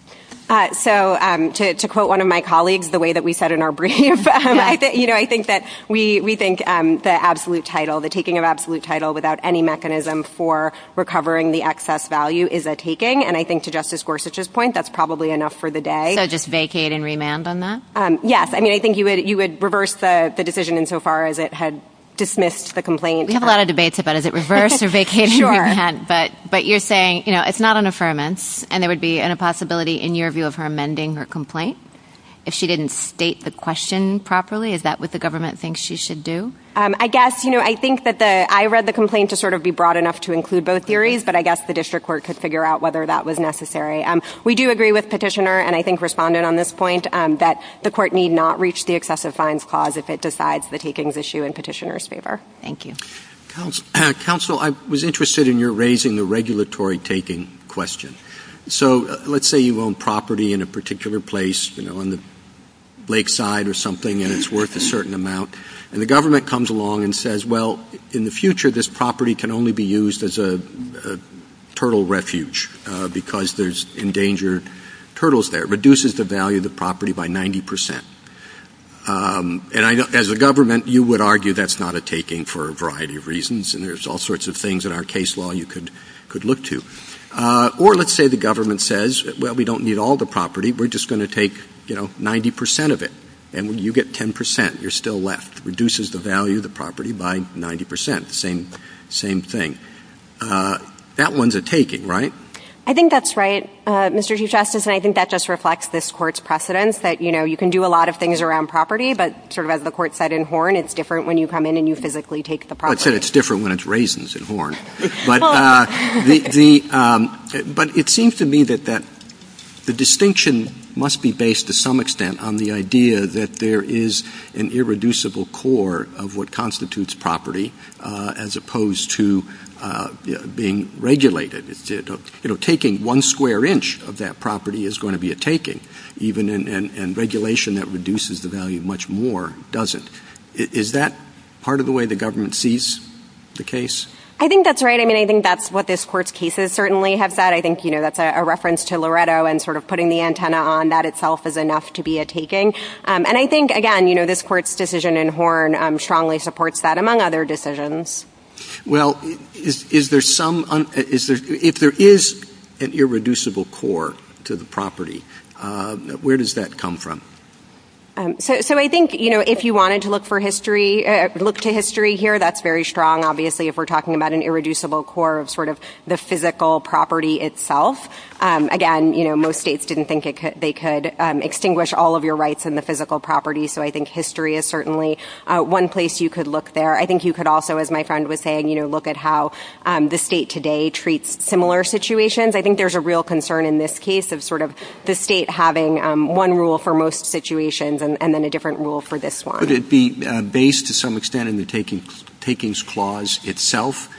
So to quote one of my colleagues, the way that we said in our brief, you know, I think that we think the absolute title, the taking of absolute title without any mechanism for recovering the excess value is a taking. And I think to Justice Gorsuch's point, that's probably enough for the day. So just vacate and remand on that? Yes. I mean, I think you would reverse the decision insofar as it had dismissed the complaint. We have a lot of debates about is it reverse or vacate and remand. But you're saying, you know, it's not an affirmance. And there would be a possibility, in your view, of her amending her complaint if she didn't state the question properly. Is that what the government thinks she should do? I guess, you know, I think that I read the complaint to sort of be broad enough to include both theories. But I guess the district court could figure out whether that was necessary. We do agree with petitioner and I think respondent on this point that the court need not reach the excessive fines clause if it decides the takings issue in petitioner's favor. Thank you. Counsel, I was interested in your raising the regulatory taking question. So let's say you own property in a particular place, you know, on the lakeside or something and it's worth a certain amount. And the government comes along and says, well, in the future, this property can only be used as a turtle refuge because there's endangered turtles there. It reduces the value of the property by 90%. And as a government, you would argue that's not a taking for a variety of reasons. And there's all sorts of things in our case law you could look to. Or let's say the government says, well, we don't need all the property. We're just going to take, you know, 90% of it. And when you get 10%, you're still left. Reduces the value of the property by 90%. Same, same thing. That one's a taking, right? I think that's right, Mr. Chief Justice. And I think that just reflects this court's precedence that, you know, you can do a lot of things around property. But sort of as the court said in Horn, it's different when you come in and you physically take the property. It's different when it's raisins in Horn. But it seems to me that the distinction must be based to some extent on the idea that there is an irreducible core of what constitutes property as opposed to being regulated. You know, taking one square inch of that property is going to be a taking. And regulation that reduces the value much more doesn't. Is that part of the way the government sees the case? I think that's right. I mean, I think that's what this court's cases certainly have said. I think, you know, that's a reference to Loretto and sort of putting the antenna on that itself is enough to be a taking. And I think, again, you know, this court's decision in Horn strongly supports that, among other decisions. Well, is there some – if there is an irreducible core to the property, where does that come from? So I think, you know, if you wanted to look for history – look to history here, that's very strong, obviously, if we're talking about an irreducible core of sort of the physical property itself. Again, you know, most states didn't think they could extinguish all of your rights in the physical property. So I think history is certainly one place you could look there. I think you could also, as my friend was saying, you know, look at how the state today treats similar situations. I think there's a real concern in this case of sort of the state having one rule for most situations and then a different rule for this one. Would it be based to some extent in the takings clause itself?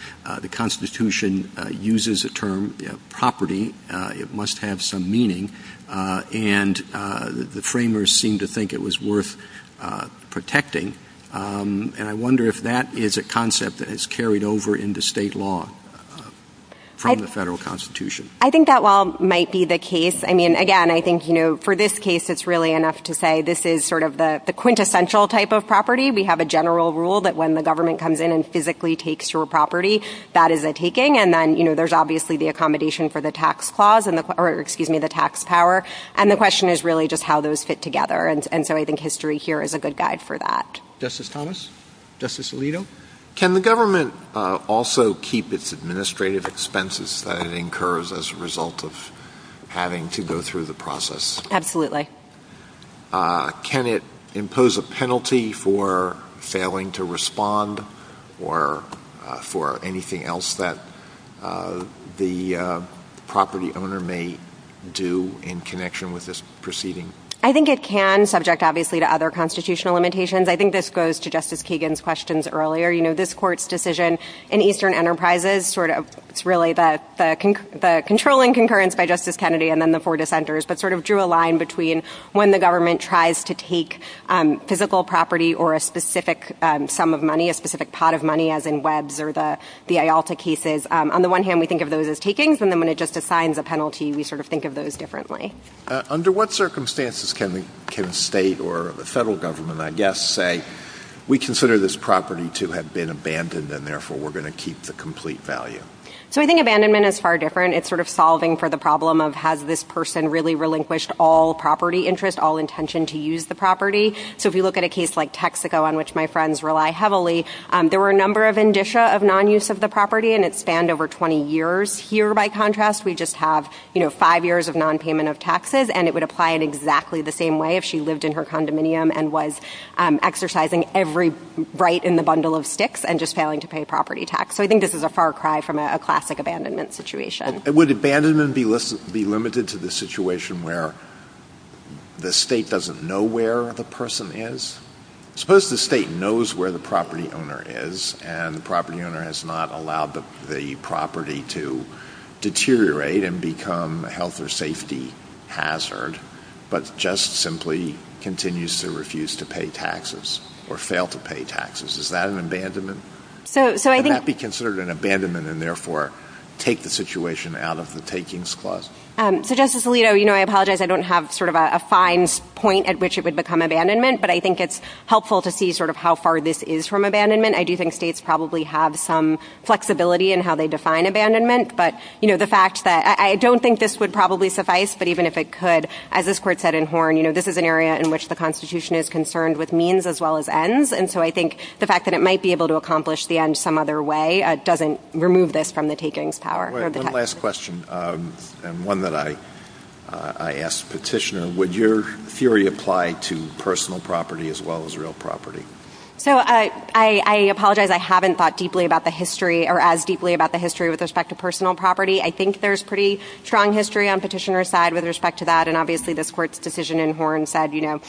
The Constitution uses the term property. It must have some meaning. And the framers seemed to think it was worth protecting. And I wonder if that is a concept that is carried over into state law from the federal Constitution. I think that law might be the case. I mean, again, I think, you know, for this case, it's really enough to say this is sort of the quintessential type of property. We have a general rule that when the government comes in and physically takes your property, that is a taking. And then, you know, there's obviously the accommodation for the tax clause – or excuse me, the tax power. And the question is really just how those fit together. And so I think history here is a good guide for that. Justice Thomas? Justice Alito? Can the government also keep its administrative expenses that it incurs as a result of having to go through the process? Absolutely. Can it impose a penalty for failing to respond or for anything else that the property owner may do in connection with this proceeding? I think it can, subject, obviously, to other constitutional limitations. I think this goes to Justice Kagan's questions earlier. You know, this court's decision in Eastern Enterprises sort of – it's really the controlling concurrence by Justice Kennedy and then the four dissenters, but sort of drew a line between when the government tries to take physical property or a specific sum of money, a specific pot of money, as in Webb's or the IALTA cases. On the one hand, we think of those as takings. And then when it just assigns a penalty, we sort of think of those differently. Under what circumstances can the state or the federal government, I guess, say, we consider this property to have been abandoned and therefore we're going to keep the complete value? So I think abandonment is far different. It's sort of solving for the problem of has this person really relinquished all property interest, all intention to use the property? So if you look at a case like Texaco, on which my friends rely heavily, there were a number of indicia of non-use of the property, and it spanned over 20 years. Here, by contrast, we just have five years of non-payment of taxes, and it would apply in exactly the same way if she lived in her condominium and was exercising every right in the bundle of sticks and just failing to pay property tax. So I think this is a far cry from a classic abandonment situation. Would abandonment be limited to the situation where the state doesn't know where the person is? Suppose the state knows where the property owner is, and the property owner has not allowed the property to deteriorate and become a health or safety hazard, but just simply continues to refuse to pay taxes or fail to pay taxes. Is that an abandonment? Would that be considered an abandonment and, therefore, take the situation out of the takings clause? So, Justice Alito, you know, I apologize. I don't have sort of a fine point at which it would become abandonment, but I think it's helpful to see sort of how far this is from abandonment. I do think states probably have some flexibility in how they define abandonment, but, you know, the fact that I don't think this would probably suffice, but even if it could, as this Court said in Horn, you know, this is an area in which the Constitution is concerned with means as well as ends, and so I think the fact that it might be able to accomplish the end some other way doesn't remove this from the takings power. One last question, and one that I asked the petitioner. Would your theory apply to personal property as well as real property? So, I apologize. I haven't thought deeply about the history or as deeply about the history with respect to personal property. I think there's pretty strong history on the petitioner's side with respect to that, and obviously this Court's decision in Horn said, you know,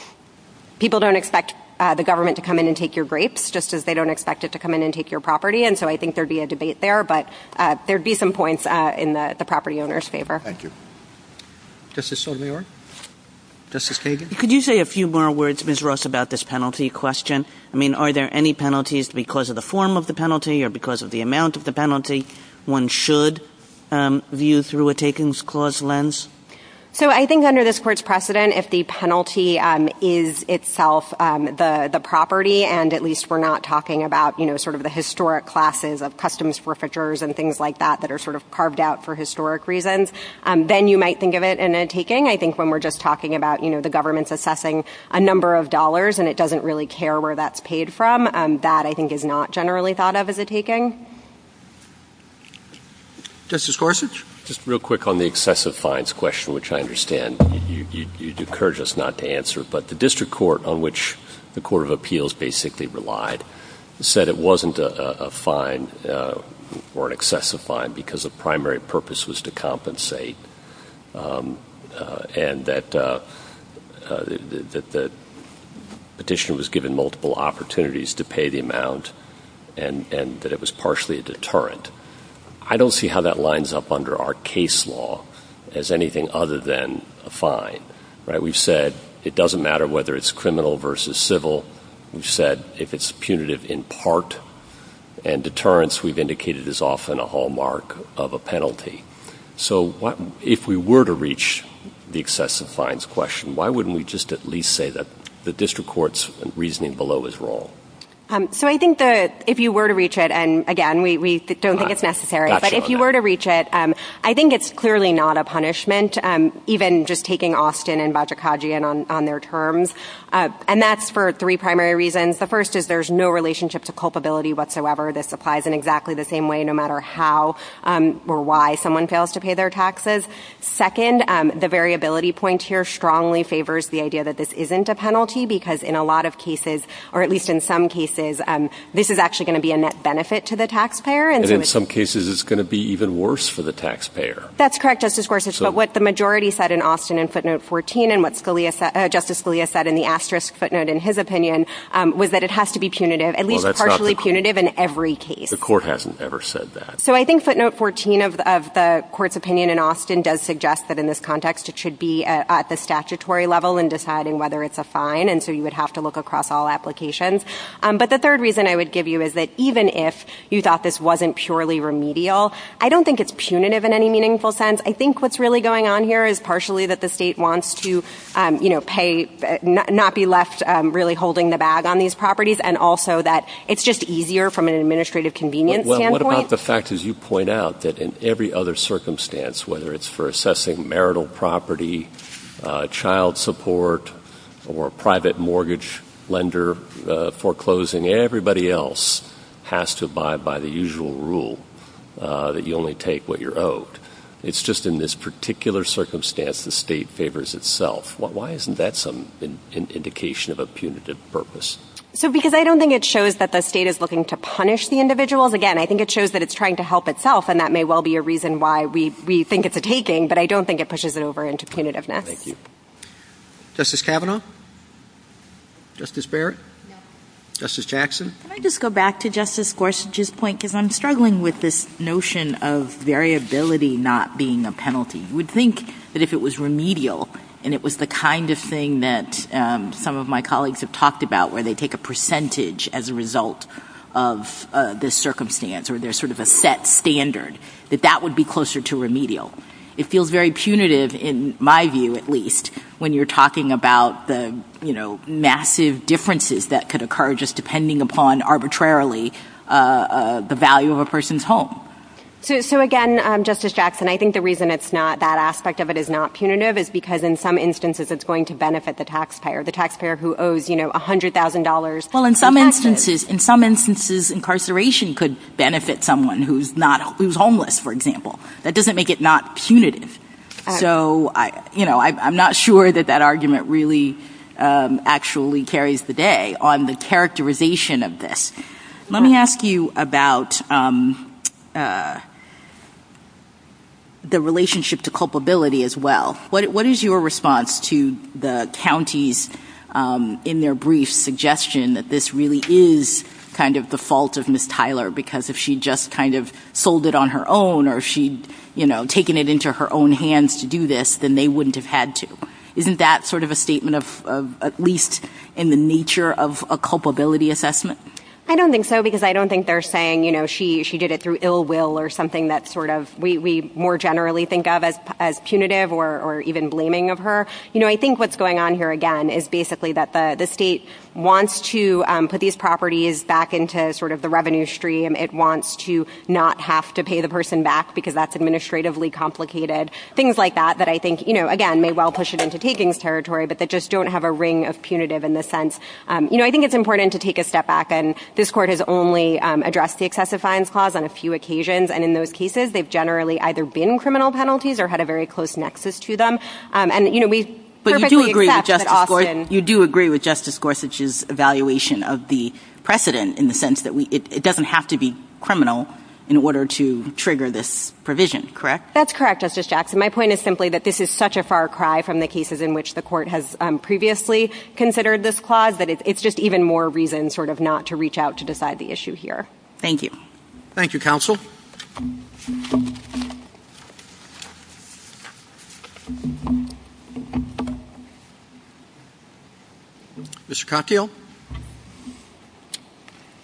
people don't expect the government to come in and take your grapes, just as they don't expect it to come in and take your property, and so I think there would be a debate there, but there would be some points in the property owner's favor. Thank you. Justice Sotomayor? Justice Kagan? Could you say a few more words, Ms. Ross, about this penalty question? I mean, are there any penalties because of the form of the penalty or because of the amount of the penalty one should view through a takings clause lens? So, I think under this Court's precedent, if the penalty is itself the property, and at least we're not talking about, you know, sort of the historic classes of customs forfeitures and things like that that are sort of carved out for historic reasons, then you might think of it in a taking. I think when we're just talking about, you know, the government's assessing a number of dollars and it doesn't really care where that's paid from, that, I think, is not generally thought of as a taking. Justice Gorsuch? Just real quick on the excessive fines question, which I understand you'd encourage us not to answer, but the District Court, on which the Court of Appeals basically relied, said it wasn't a fine or an excessive fine because the primary purpose was to compensate and that the petitioner was given multiple opportunities to pay the amount and that it was partially a deterrent. I don't see how that lines up under our case law as anything other than a fine. We've said it doesn't matter whether it's criminal versus civil. We've said if it's punitive in part and deterrence, we've indicated, is often a hallmark of a penalty. So if we were to reach the excessive fines question, why wouldn't we just at least say that the District Court's reasoning below is wrong? So I think that if you were to reach it, and again, we don't think it's necessary, but if you were to reach it, I think it's clearly not a punishment, even just taking Austin and Vajikajian on their terms, and that's for three primary reasons. The first is there's no relationship to culpability whatsoever. This applies in exactly the same way no matter how or why someone fails to pay their taxes. Second, the variability point here strongly favors the idea that this isn't a penalty because in a lot of cases, or at least in some cases, this is actually going to be a net benefit to the taxpayer. And in some cases, it's going to be even worse for the taxpayer. That's correct, Justice Gorsuch, but what the majority said in Austin in footnote 14 and what Justice Scalia said in the asterisk footnote in his opinion was that it has to be punitive, at least partially punitive in every case. The court hasn't ever said that. So I think footnote 14 of the court's opinion in Austin does suggest that in this context, it should be at the statutory level in deciding whether it's a fine, and so you would have to look across all applications. But the third reason I would give you is that even if you thought this wasn't purely remedial, I don't think it's punitive in any meaningful sense. I think what's really going on here is partially that the state wants to pay, not be left really holding the bag on these properties, and also that it's just easier from an administrative convenience standpoint. Well, what about the fact, as you point out, that in every other circumstance, whether it's for assessing marital property, child support, or private mortgage lender foreclosing, everybody else has to abide by the usual rule that you only take what you're owed. It's just in this particular circumstance the state favors itself. Why isn't that some indication of a punitive purpose? Because I don't think it shows that the state is looking to punish the individuals. Again, I think it shows that it's trying to help itself, and that may well be a reason why we think it's a taking, but I don't think it pushes it over into punitiveness. Thank you. Justice Kavanaugh? Justice Barrett? Justice Jackson? Can I just go back to Justice Gorsuch's point? Because I'm struggling with this notion of variability not being a penalty. You would think that if it was remedial, and it was the kind of thing that some of my colleagues have talked about where they take a percentage as a result of the circumstance, or there's sort of a set standard, that that would be closer to remedial. It feels very punitive, in my view at least, when you're talking about the massive differences that could occur just depending upon arbitrarily the value of a person's home. So, again, Justice Jackson, I think the reason that aspect of it is not punitive is because in some instances it's going to benefit the taxpayer, the taxpayer who owes $100,000. Well, in some instances incarceration could benefit someone who's homeless, for example. That doesn't make it not punitive. I'm not sure that that argument really actually carries the day on the characterization of this. Let me ask you about the relationship to culpability as well. What is your response to the counties in their brief suggestion that this really is kind of the fault of Ms. Tyler because if she just kind of sold it on her own or if she'd taken it into her own hands to do this, then they wouldn't have had to? Isn't that sort of a statement of at least in the nature of a culpability assessment? I don't think so because I don't think they're saying she did it through ill will or something that we more generally think of as punitive or even blaming of her. I think what's going on here, again, is basically that the state wants to put these properties back into sort of the revenue stream. It wants to not have to pay the person back because that's administratively complicated. Things like that that I think, again, may well push it into takings territory but that just don't have a ring of punitive in the sense. I think it's important to take a step back and this court has only addressed the excessive fines clause on a few occasions, and in those cases, they've generally either been criminal penalties or had a very close nexus to them. But you do agree with Justice Gorsuch's evaluation of the precedent in the sense that it doesn't have to be criminal in order to trigger this provision, correct? That's correct, Justice Jackson. My point is simply that this is such a far cry from the cases in which the court has previously considered this clause that it's just even more reason sort of not to reach out to decide the issue here. Thank you. Thank you, counsel. Mr. Confio.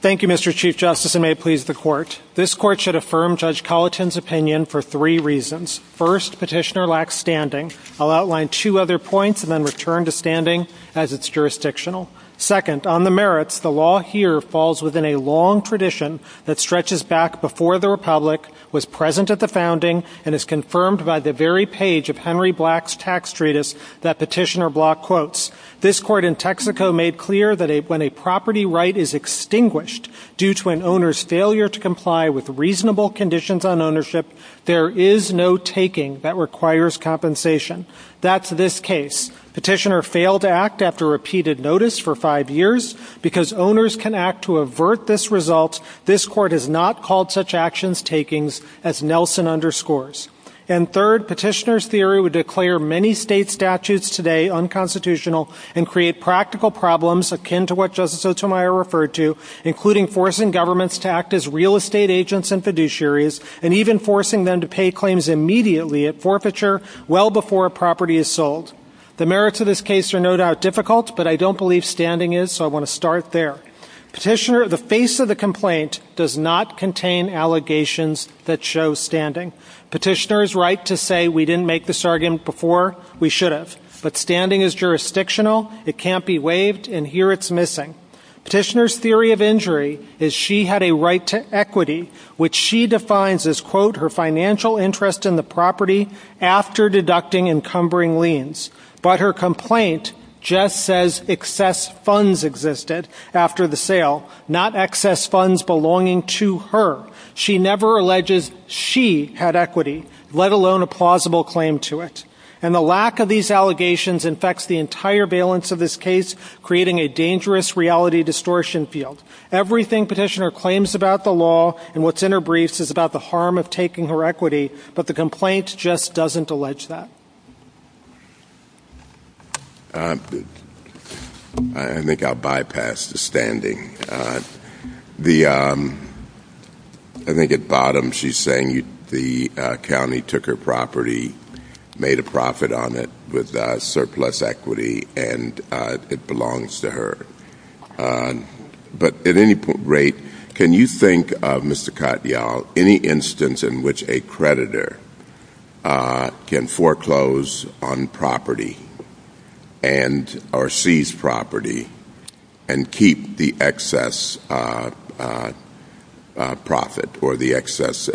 Thank you, Mr. Chief Justice, and may it please the court. This court should affirm Judge Colleton's opinion for three reasons. First, petitioner lacks standing. I'll outline two other points and then return to standing as it's jurisdictional. Second, on the merits, the law here falls within a long tradition that stretches back before the Republic, was present at the founding, and is confirmed by the very page of Henry Black's tax treatise that petitioner block quotes. This court in Texaco made clear that when a property right is extinguished due to an owner's failure to comply with reasonable conditions on ownership, there is no taking that requires compensation. That's this case. Petitioner failed to act after repeated notice for five years because owners can act to avert this result. This court has not called such actions takings as Nelson underscores. And third, petitioner's theory would declare many state statutes today unconstitutional and create practical problems akin to what Justice Otomayo referred to, including forcing governments to act as real estate agents and fiduciaries and even forcing them to pay claims immediately at forfeiture well before a property is sold. The merits of this case are no doubt difficult, but I don't believe standing is, so I want to start there. Petitioner, the face of the complaint does not contain allegations that show standing. Petitioner is right to say we didn't make this argument before, we should have. But standing is jurisdictional, it can't be waived, and here it's missing. Petitioner's theory of injury is she had a right to equity, which she defines as, quote, her financial interest in the property after deducting encumbering liens. But her complaint just says excess funds existed after the sale, not excess funds belonging to her. She never alleges she had equity, let alone a plausible claim to it. And the lack of these allegations infects the entire valence of this case, creating a dangerous reality distortion field. Everything petitioner claims about the law and what's in her briefs is about the harm of taking her equity, but the complaint just doesn't allege that. I think I'll bypass the standing. I think at the bottom she's saying the county took her property, made a profit on it with surplus equity, and it belongs to her. But at any rate, can you think, Mr. Katyal, any instance in which a creditor can foreclose on property and or seize property and keep the excess profit or the excess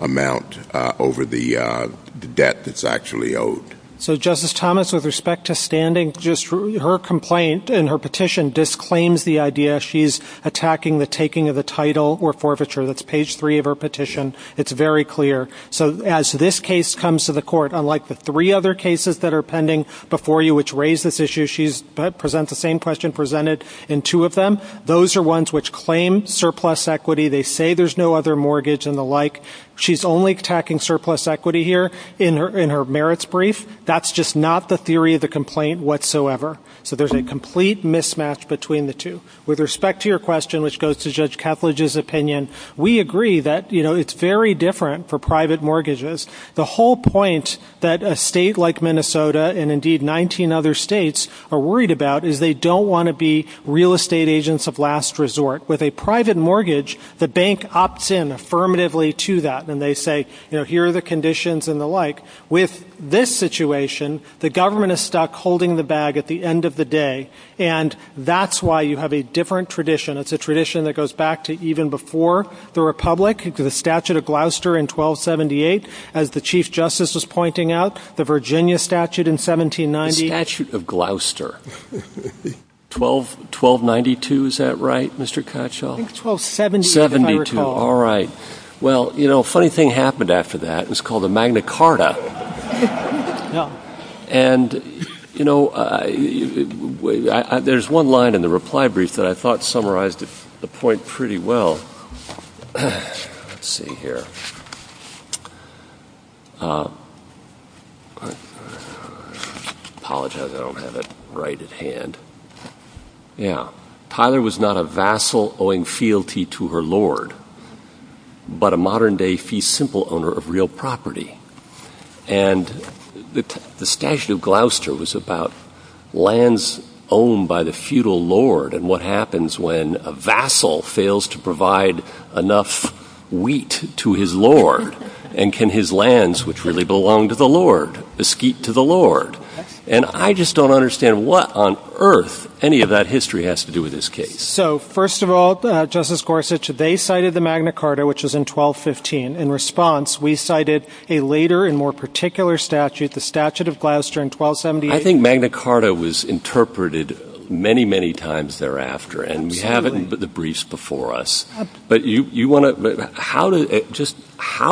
amount over the debt that's actually owed? So, Justice Thomas, with respect to standing, just her complaint and her petition disclaims the idea that she's attacking the taking of the title or forfeiture. That's page 3 of her petition. It's very clear. So as this case comes to the court, unlike the three other cases that are pending before you which raise this issue, she presents the same question presented in two of them. Those are ones which claim surplus equity. They say there's no other mortgage and the like. She's only attacking surplus equity here in her merits brief. That's just not the theory of the complaint whatsoever. So there's a complete mismatch between the two. With respect to your question, which goes to Judge Kaplage's opinion, we agree that it's very different for private mortgages. The whole point that a state like Minnesota and indeed 19 other states are worried about is they don't want to be real estate agents of last resort. With a private mortgage, the bank opts in affirmatively to that, and they say here are the conditions and the like. With this situation, the government is stuck holding the bag at the end of the day, and that's why you have a different tradition. It's a tradition that goes back to even before the Republic, to the Statute of Gloucester in 1278. As the Chief Justice was pointing out, the Virginia Statute in 1790. The Statute of Gloucester. 1292, is that right, Mr. Katchoff? I think 1272, if I recall. All right. Well, you know, a funny thing happened after that. It was called the Magna Carta. And, you know, there's one line in the reply brief that I thought summarized the point pretty well. Let's see here. Apologize, I don't have it right at hand. Yeah. Tyler was not a vassal owing fealty to her lord, but a modern day fee simple owner of real property. And the Statute of Gloucester was about lands owned by the feudal lord and what happens when a vassal fails to provide enough wheat to his lord and can his lands, which really belong to the lord, bespeak to the lord. And I just don't understand what on earth any of that history has to do with this case. So, first of all, Justice Gorsuch, they cited the Magna Carta, which was in 1215. In response, we cited a later and more particular statute, the Statute of Gloucester in 1278. I think Magna Carta was interpreted many, many times thereafter. And we have it in the briefs before us. But how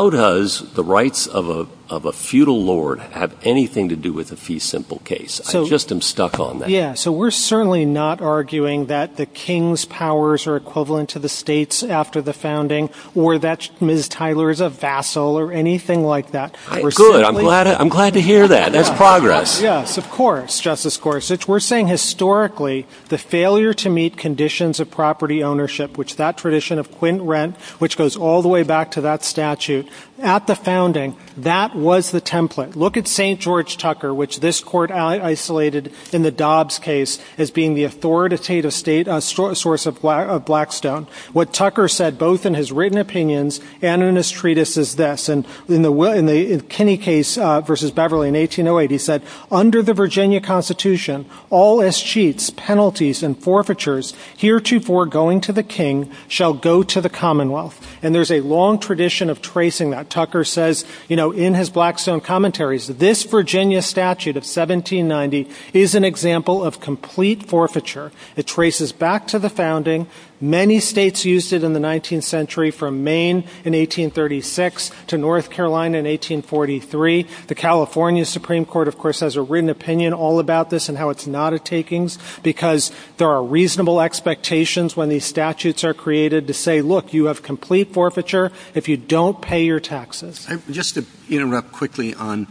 does the rights of a feudal lord have anything to do with the fee simple case? I just am stuck on that. Yeah, so we're certainly not arguing that the king's powers are equivalent to the state's after the founding or that Ms. Tyler is a vassal or anything like that. Good, I'm glad to hear that. That's progress. Yes, of course, Justice Gorsuch. We're saying historically the failure to meet conditions of property ownership, which is that tradition of quint rent, which goes all the way back to that statute, at the founding, that was the template. Look at St. George Tucker, which this court isolated in the Dobbs case as being the authoritative source of Blackstone. What Tucker said, both in his written opinions and in his treatise, is this. In the Kinney case versus Beverly in 1808, he said, under the Virginia Constitution, all escheats, penalties, and forfeitures heretofore going to the king shall go to the commonwealth. And there's a long tradition of tracing that. Tucker says in his Blackstone commentaries, this Virginia statute of 1790 is an example of complete forfeiture. It traces back to the founding. Many states used it in the 19th century, from Maine in 1836 to North Carolina in 1843. The California Supreme Court, of course, has a written opinion all about this and how it's not a takings, because there are reasonable expectations when these statutes are created to say, look, you have complete forfeiture if you don't pay your taxes. Just to interrupt quickly on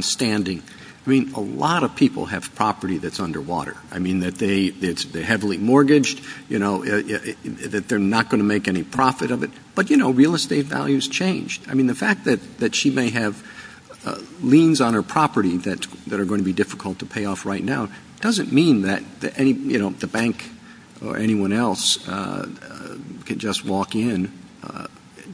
standing. I mean, a lot of people have property that's underwater. I mean, that they're heavily mortgaged, you know, that they're not going to make any profit of it. But, you know, real estate values change. I mean, the fact that she may have liens on her property that are going to be difficult to pay off right now doesn't mean that the bank or anyone else can just walk in.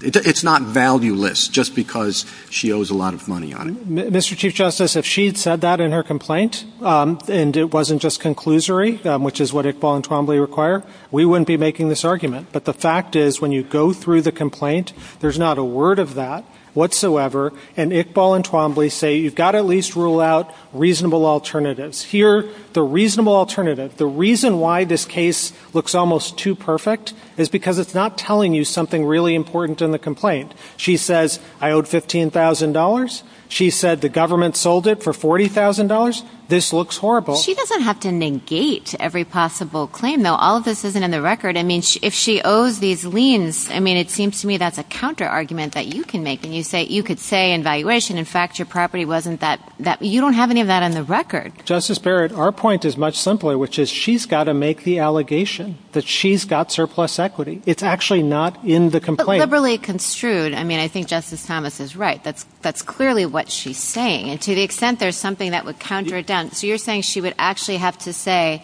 It's not valueless just because she owes a lot of money on it. Mr. Chief Justice, if she had said that in her complaint and it wasn't just conclusory, which is what Iqbal and Twombly require, we wouldn't be making this argument. But the fact is when you go through the complaint, there's not a word of that whatsoever, and Iqbal and Twombly say you've got to at least rule out reasonable alternatives. Here, the reasonable alternative, the reason why this case looks almost too perfect is because it's not telling you something really important in the complaint. She says, I owed $15,000. She said the government sold it for $40,000. This looks horrible. She doesn't have to negate every possible claim, though. All of this isn't in the record. I mean, if she owes these liens, I mean, it seems to me that's a counterargument that you can make and you could say in valuation, in fact, your property wasn't that. You don't have any of that in the record. Justice Barrett, our point is much simpler, which is she's got to make the allegation that she's got surplus equity. It's actually not in the complaint. But liberally construed, I mean, I think Justice Thomas is right. That's clearly what she's saying. And to the extent there's something that would counter it down. So you're saying she would actually have to say,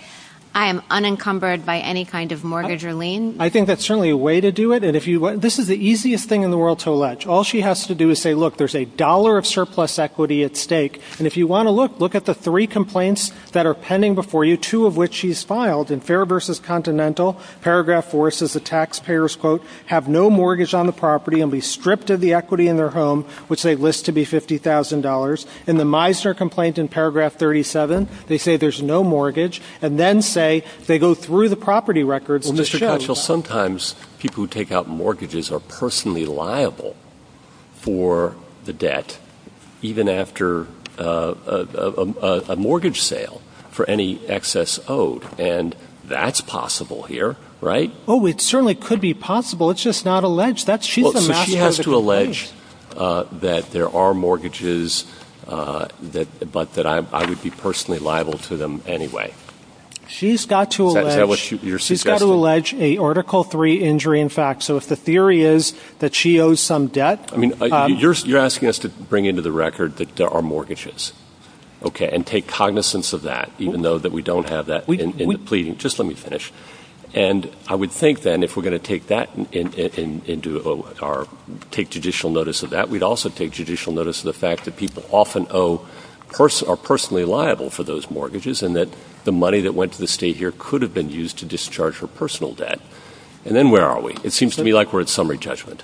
I am unencumbered by any kind of mortgage or lien? I think that's certainly a way to do it. This is the easiest thing in the world to allege. All she has to do is say, look, there's a dollar of surplus equity at stake. And if you want to look, look at the three complaints that are pending before you, two of which she's filed in Fair v. Continental. Paragraph 4 says the taxpayers, quote, have no mortgage on the property and be stripped of the equity in their home, which they list to be $50,000. In the Meisner complaint in paragraph 37, they say there's no mortgage. And then say they go through the property records. Well, Mr. Kuchel, sometimes people who take out mortgages are personally liable for the debt, even after a mortgage sale for any excess owed. And that's possible here, right? Oh, it certainly could be possible. It's just not alleged. She has to allege that there are mortgages, but that I would be personally liable to them anyway. She's got to allege an Article 3 injury, in fact. So if the theory is that she owes some debt. You're asking us to bring into the record that there are mortgages, okay, and take cognizance of that, even though we don't have that in the pleading. Just let me finish. And I would think, then, if we're going to take judicial notice of that, we'd also take judicial notice of the fact that people often are personally liable for those mortgages and that the money that went to the state here could have been used to discharge her personal debt. And then where are we? It seems to me like we're at summary judgment.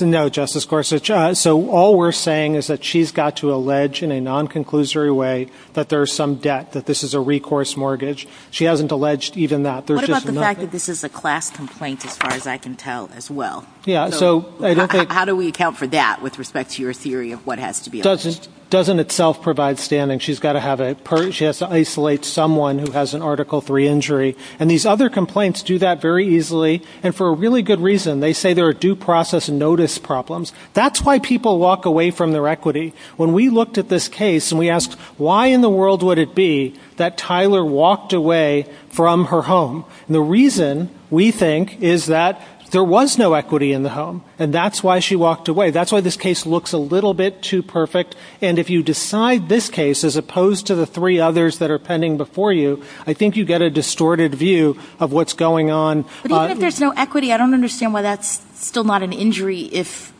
No, Justice Gorsuch. So all we're saying is that she's got to allege in a non-conclusory way that there is some debt, that this is a recourse mortgage. She hasn't alleged even that. What about the fact that this is a class complaint, as far as I can tell, as well? How do we account for that with respect to your theory of what has to be alleged? It doesn't itself provide standing. She has to isolate someone who has an Article 3 injury. And these other complaints do that very easily, and for a really good reason. They say there are due process notice problems. That's why people walk away from their equity. When we looked at this case and we asked why in the world would it be that Tyler walked away from her home, the reason, we think, is that there was no equity in the home, and that's why she walked away. That's why this case looks a little bit too perfect. And if you decide this case, as opposed to the three others that are pending before you, I think you get a distorted view of what's going on. But even if there's no equity, I don't understand why that's still not an injury if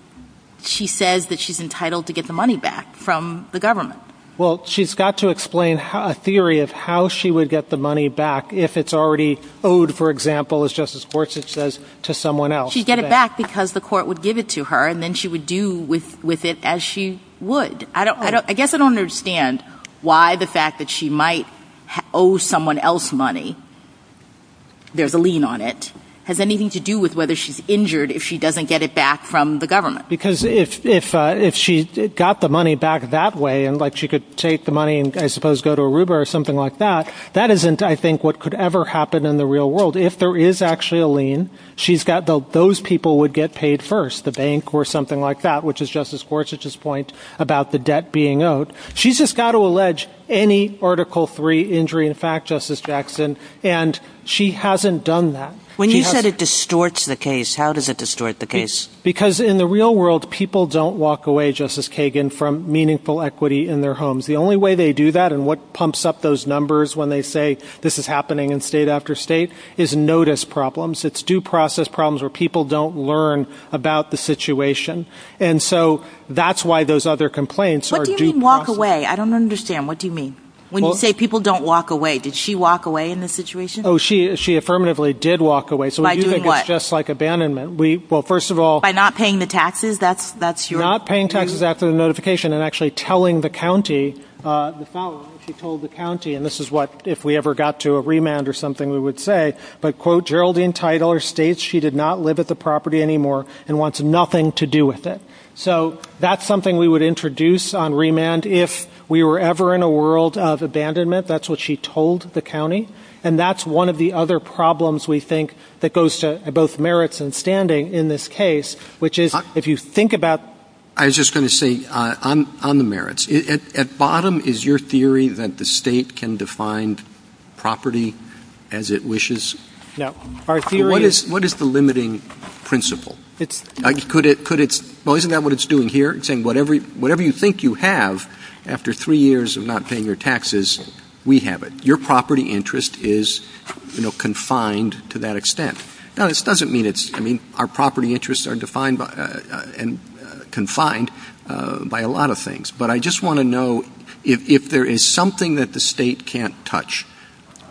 she says that she's entitled to get the money back from the government. Well, she's got to explain a theory of how she would get the money back if it's already owed, for example, as Justice Gorsuch says, to someone else. She'd get it back because the court would give it to her, and then she would do with it as she would. I guess I don't understand why the fact that she might owe someone else money, there's a lien on it, has anything to do with whether she's injured if she doesn't get it back from the government. Because if she got the money back that way, and she could take the money and I suppose go to Aruba or something like that, that isn't, I think, what could ever happen in the real world. If there is actually a lien, those people would get paid first, the bank or something like that, which is Justice Gorsuch's point about the debt being owed. She's just got to allege any Article III injury in fact, Justice Jackson, and she hasn't done that. When you said it distorts the case, how does it distort the case? Because in the real world, people don't walk away, Justice Kagan, from meaningful equity in their homes. The only way they do that and what pumps up those numbers when they say this is happening in state after state is notice problems. It's due process problems where people don't learn about the situation. And so that's why those other complaints are due process. What do you mean walk away? I don't understand. What do you mean? When you say people don't walk away, did she walk away in this situation? She affirmatively did walk away. By doing what? Just like abandonment. By not paying the taxes? Not paying taxes after the notification and actually telling the county, she told the county and this is what if we ever got to a remand or something we would say, but quote Geraldine Teitel states she did not live at the property anymore and wants nothing to do with it. So that's something we would introduce on remand if we were ever in a world of abandonment. That's what she told the county. And that's one of the other problems we think that goes to both merits and standing in this case, which is if you think about I was just going to say on the merits. At bottom is your theory that the state can define property as it wishes? What is the limiting principle? Isn't that what it's doing here? It's saying whatever you think you have after three years of not paying your taxes, we have it. Your property interest is confined to that extent. Our property interests are defined and confined by a lot of things. But I just want to know if there is something that the state can't touch,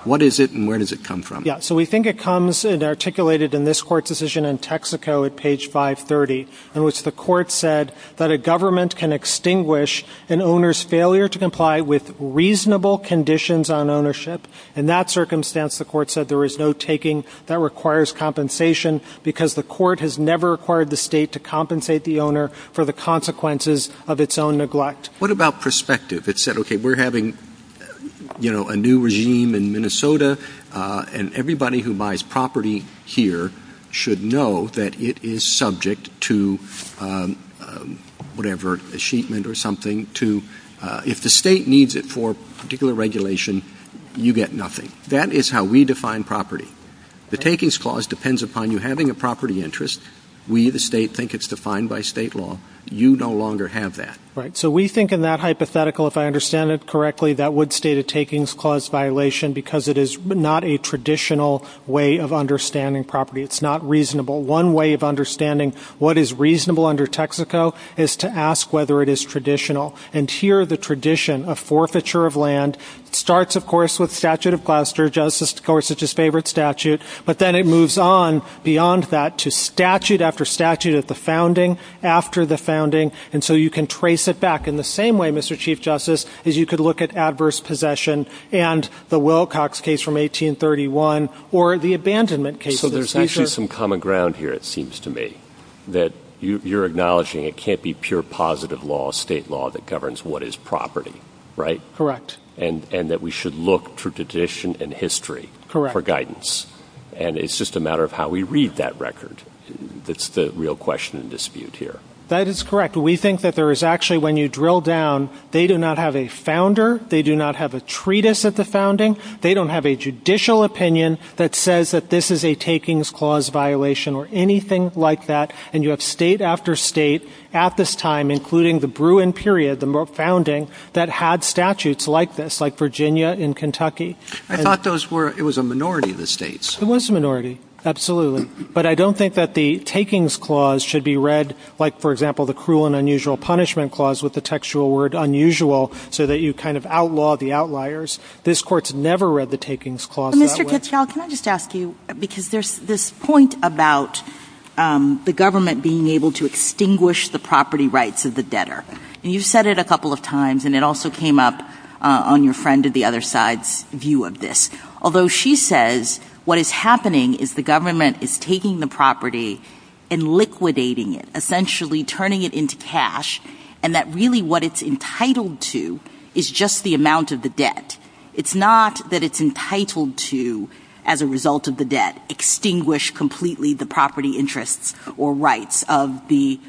what is it and where does it come from? So we think it comes and articulated in this court decision in Texaco at page 530, in which the court said that a government can extinguish an owner's failure to comply with reasonable conditions on ownership. In that circumstance, the court said there is no taking that requires compensation because the court has never required the state to compensate the owner for the consequences of its own neglect. What about perspective? It said, okay, we're having a new regime in Minnesota and everybody who buys property here should know that it is subject to whatever achievement or something. If the state needs it for a particular regulation, you get nothing. That is how we define property. The takings clause depends upon you having a property interest. We, the state, think it's defined by state law. You no longer have that. So we think in that hypothetical, if I understand it correctly, that would state a takings clause violation because it is not a traditional way of understanding property. It's not reasonable. One way of understanding what is reasonable under Texaco is to ask whether it is traditional. And here, the tradition of forfeiture of land starts, of course, with statute of Gloucester. Justice Scorsese's favorite statute. But then it moves on beyond that to statute after statute at the founding, after the founding. And so you can trace it back in the same way, Mr. Chief Justice, is you could look at adverse possession and the Wilcox case from 1831 or the abandonment case. So there's actually some common ground here, it seems to me, that you're acknowledging it can't be pure positive law, state law that governs what is property, right? Correct. And that we should look through tradition and history for guidance. And it's just a matter of how we read that record. That's the real question and dispute here. That is correct. We think that there is actually, when you drill down, they do not have a founder. They do not have a treatise at the founding. They don't have a judicial opinion that says that this is a takings clause violation or anything like that. And you have state after state at this time, including the Bruin period, the founding, that had statutes like this, like Virginia and Kentucky. I thought it was a minority of the states. It was a minority, absolutely. But I don't think that the takings clause should be read like, for example, the cruel and unusual punishment clause with the textual word unusual so that you kind of outlaw the outliers. This court's never read the takings clause that way. Mr. Kitchell, can I just ask you, because there's this point about the government being able to extinguish the property rights of the debtor. And you've said it a couple of times, and it also came up on your friend at the other side's view of this. Although she says what is happening is the government is taking the property and liquidating it, essentially turning it into cash, and that really what it's entitled to is just the amount of the debt. It's not that it's entitled to, as a result of the debt, extinguish completely the property interests or rights of the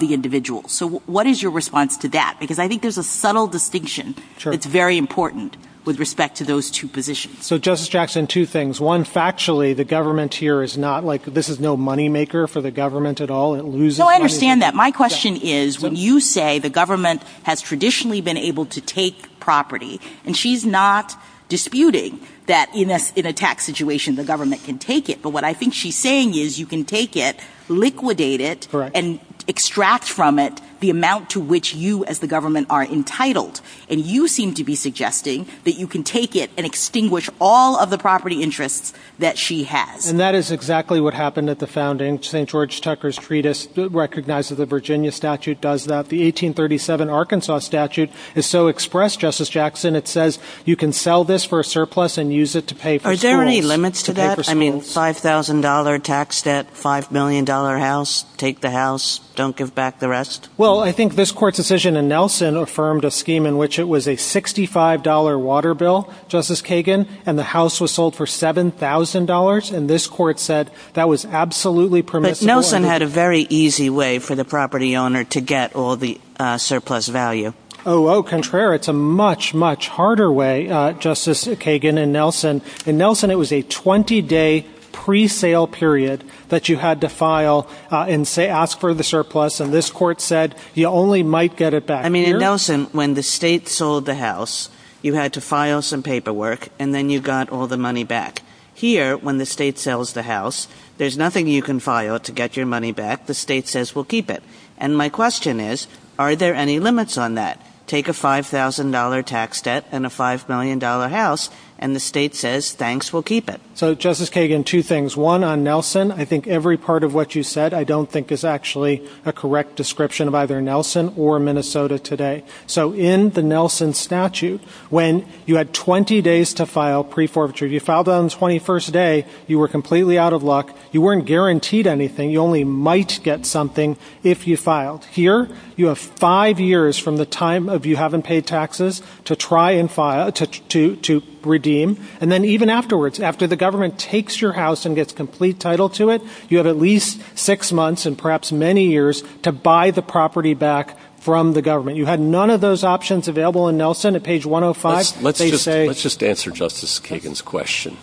individual. So what is your response to that? Because I think there's a subtle distinction that's very important with respect to those two positions. So Justice Jackson, two things. One, factually, the government here is not like this is no moneymaker for the government at all. No, I understand that. My question is, when you say the government has traditionally been able to take property, and she's not disputing that in a tax situation the government can take it, but what I think she's saying is you can take it, liquidate it, and extract from it the amount to which you as the government are entitled. And you seem to be suggesting that you can take it and extinguish all of the property interests that she has. And that is exactly what happened at the founding. St. George Tucker's treatise recognizes the Virginia statute does that. The 1837 Arkansas statute is so expressed, Justice Jackson. It says you can sell this for a surplus and use it to pay for school. Are there any limits to that? I mean, $5,000 tax debt, $5 million house, take the house, don't give back the rest? Well, I think this court's decision in Nelson affirmed a scheme in which it was a $65 water bill, Justice Kagan, and the house was sold for $7,000. And this court said that was absolutely permissible. But Nelson had a very easy way for the property owner to get all the surplus value. Oh, au contraire. It's a much, much harder way, Justice Kagan and Nelson. In Nelson, it was a 20-day pre-sale period that you had to file and ask for the surplus. And this court said you only might get it back. I mean, in Nelson, when the state sold the house, you had to file some paperwork, and then you got all the money back. Here, when the state sells the house, there's nothing you can file to get your money back. The state says we'll keep it. And my question is, are there any limits on that? Take a $5,000 tax debt and a $5 million house, and the state says thanks, we'll keep it. So, Justice Kagan, two things. One, on Nelson, I think every part of what you said I don't think is actually a correct description of either Nelson or Minnesota today. So, in the Nelson statute, when you had 20 days to file pre-forfeiture, you filed on the 21st day, you were completely out of luck. You weren't guaranteed anything. You only might get something if you filed. Here, you have five years from the time of you having paid taxes to try and file, to redeem. And then even afterwards, after the government takes your house and gets complete title to it, you have at least six months and perhaps many years to buy the property back from the government. You had none of those options available in Nelson at page 105. Let's just answer Justice Kagan's question.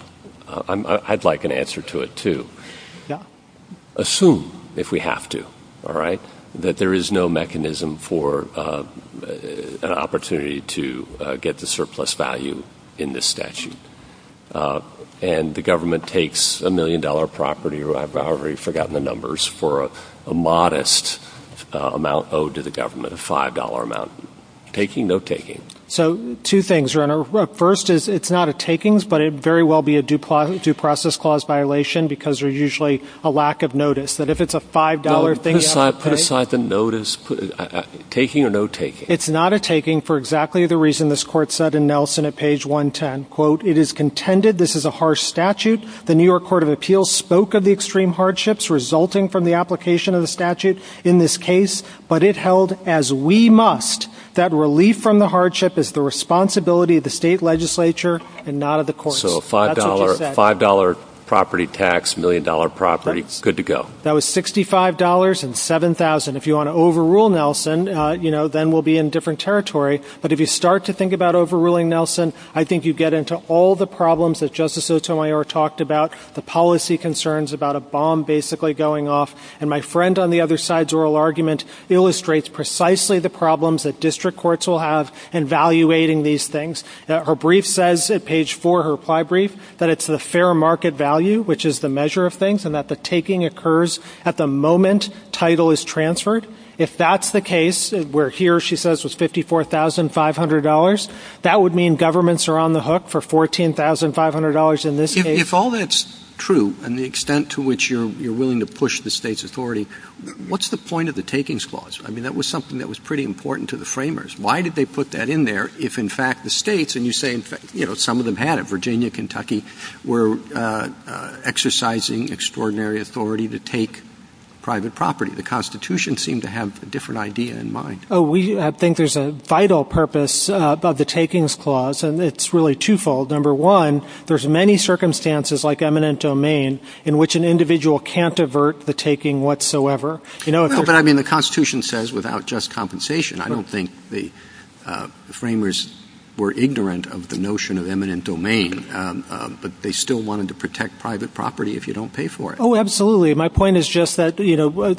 I'd like an answer to it, too. Assume, if we have to, that there is no mechanism for an opportunity to get the surplus value in this statute. And the government takes a $1 million property, or I've already forgotten the numbers, for a modest amount owed to the government, a $5 amount. Taking, no taking. So, two things, Your Honor. First is, it's not a takings, but it very well be a due process clause violation, because there's usually a lack of notice. That if it's a $5 thing- Put aside the notice. Taking or no taking? It's not a taking for exactly the reason this Court said in Nelson at page 110. Quote, it is contended this is a harsh statute. The New York Court of Appeals spoke of the extreme hardships resulting from the application of the statute in this case. But it held, as we must, that relief from the hardship is the responsibility of the state legislature and not of the courts. So, $5 property tax, $1 million property, good to go. That was $65 and $7,000. If you want to overrule Nelson, then we'll be in different territory. But if you start to think about overruling Nelson, I think you get into all the problems that Justice Otonelio talked about. The policy concerns about a bomb basically going off. And my friend on the other side's oral argument illustrates precisely the problems that district courts will have in valuating these things. Her brief says at page 4, her ply brief, that it's the fair market value, which is the measure of things, and that the taking occurs at the moment title is transferred. If that's the case, where here she says was $54,500, that would mean governments are on the hook for $14,500 in this case. If all that's true, and the extent to which you're willing to push the state's authority, what's the point of the takings clause? I mean, that was something that was pretty important to the framers. Why did they put that in there if, in fact, the states, and you say some of them had it, Virginia, Kentucky, were exercising extraordinary authority to take private property? The Constitution seemed to have a different idea in mind. We think there's a vital purpose of the takings clause, and it's really twofold. Number one, there's many circumstances, like eminent domain, in which an individual can't avert the taking whatsoever. I mean, the Constitution says without just compensation. I don't think the framers were ignorant of the notion of eminent domain, but they still wanted to protect private property if you don't pay for it. Oh, absolutely. My point is just that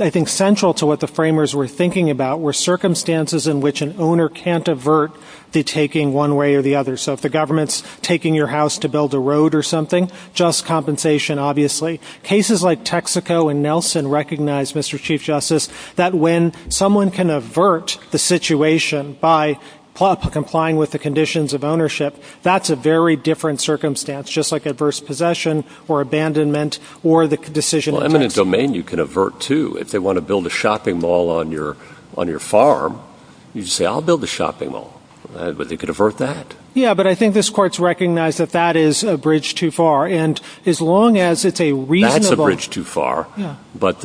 I think central to what the framers were thinking about were circumstances in which an owner can't avert the taking one way or the other. So if the government's taking your house to build a road or something, just compensation, obviously. Cases like Texaco and Nelson recognize, Mr. Chief Justice, that when someone can avert the situation by complying with the conditions of ownership, that's a very different circumstance, just like adverse possession or abandonment or the decision of Texas. Well, eminent domain you can avert, too. If they want to build a shopping mall on your farm, you say, I'll build a shopping mall. They could avert that. Yeah, but I think this court's recognized that that is a bridge too far. And as long as it's a reasonable- That's a bridge too far. But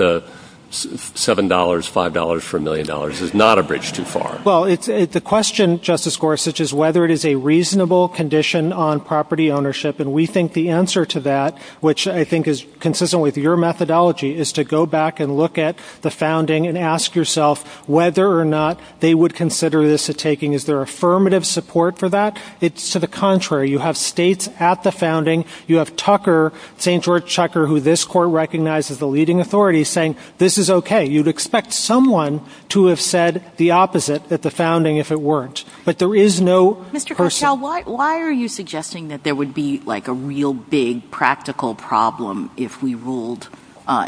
$7, $5 for $1 million is not a bridge too far. Well, the question, Justice Gorsuch, is whether it is a reasonable condition on property ownership. And we think the answer to that, which I think is consistent with your methodology, is to go back and look at the founding and ask yourself whether or not they would consider this a taking. Is there affirmative support for that? It's to the contrary. You have states at the founding. You have Tucker, St. George Tucker, who this court recognizes as a leading authority, saying this is okay. You'd expect someone to have said the opposite at the founding if it weren't. But there is no- I think it would be like a real big practical problem if we ruled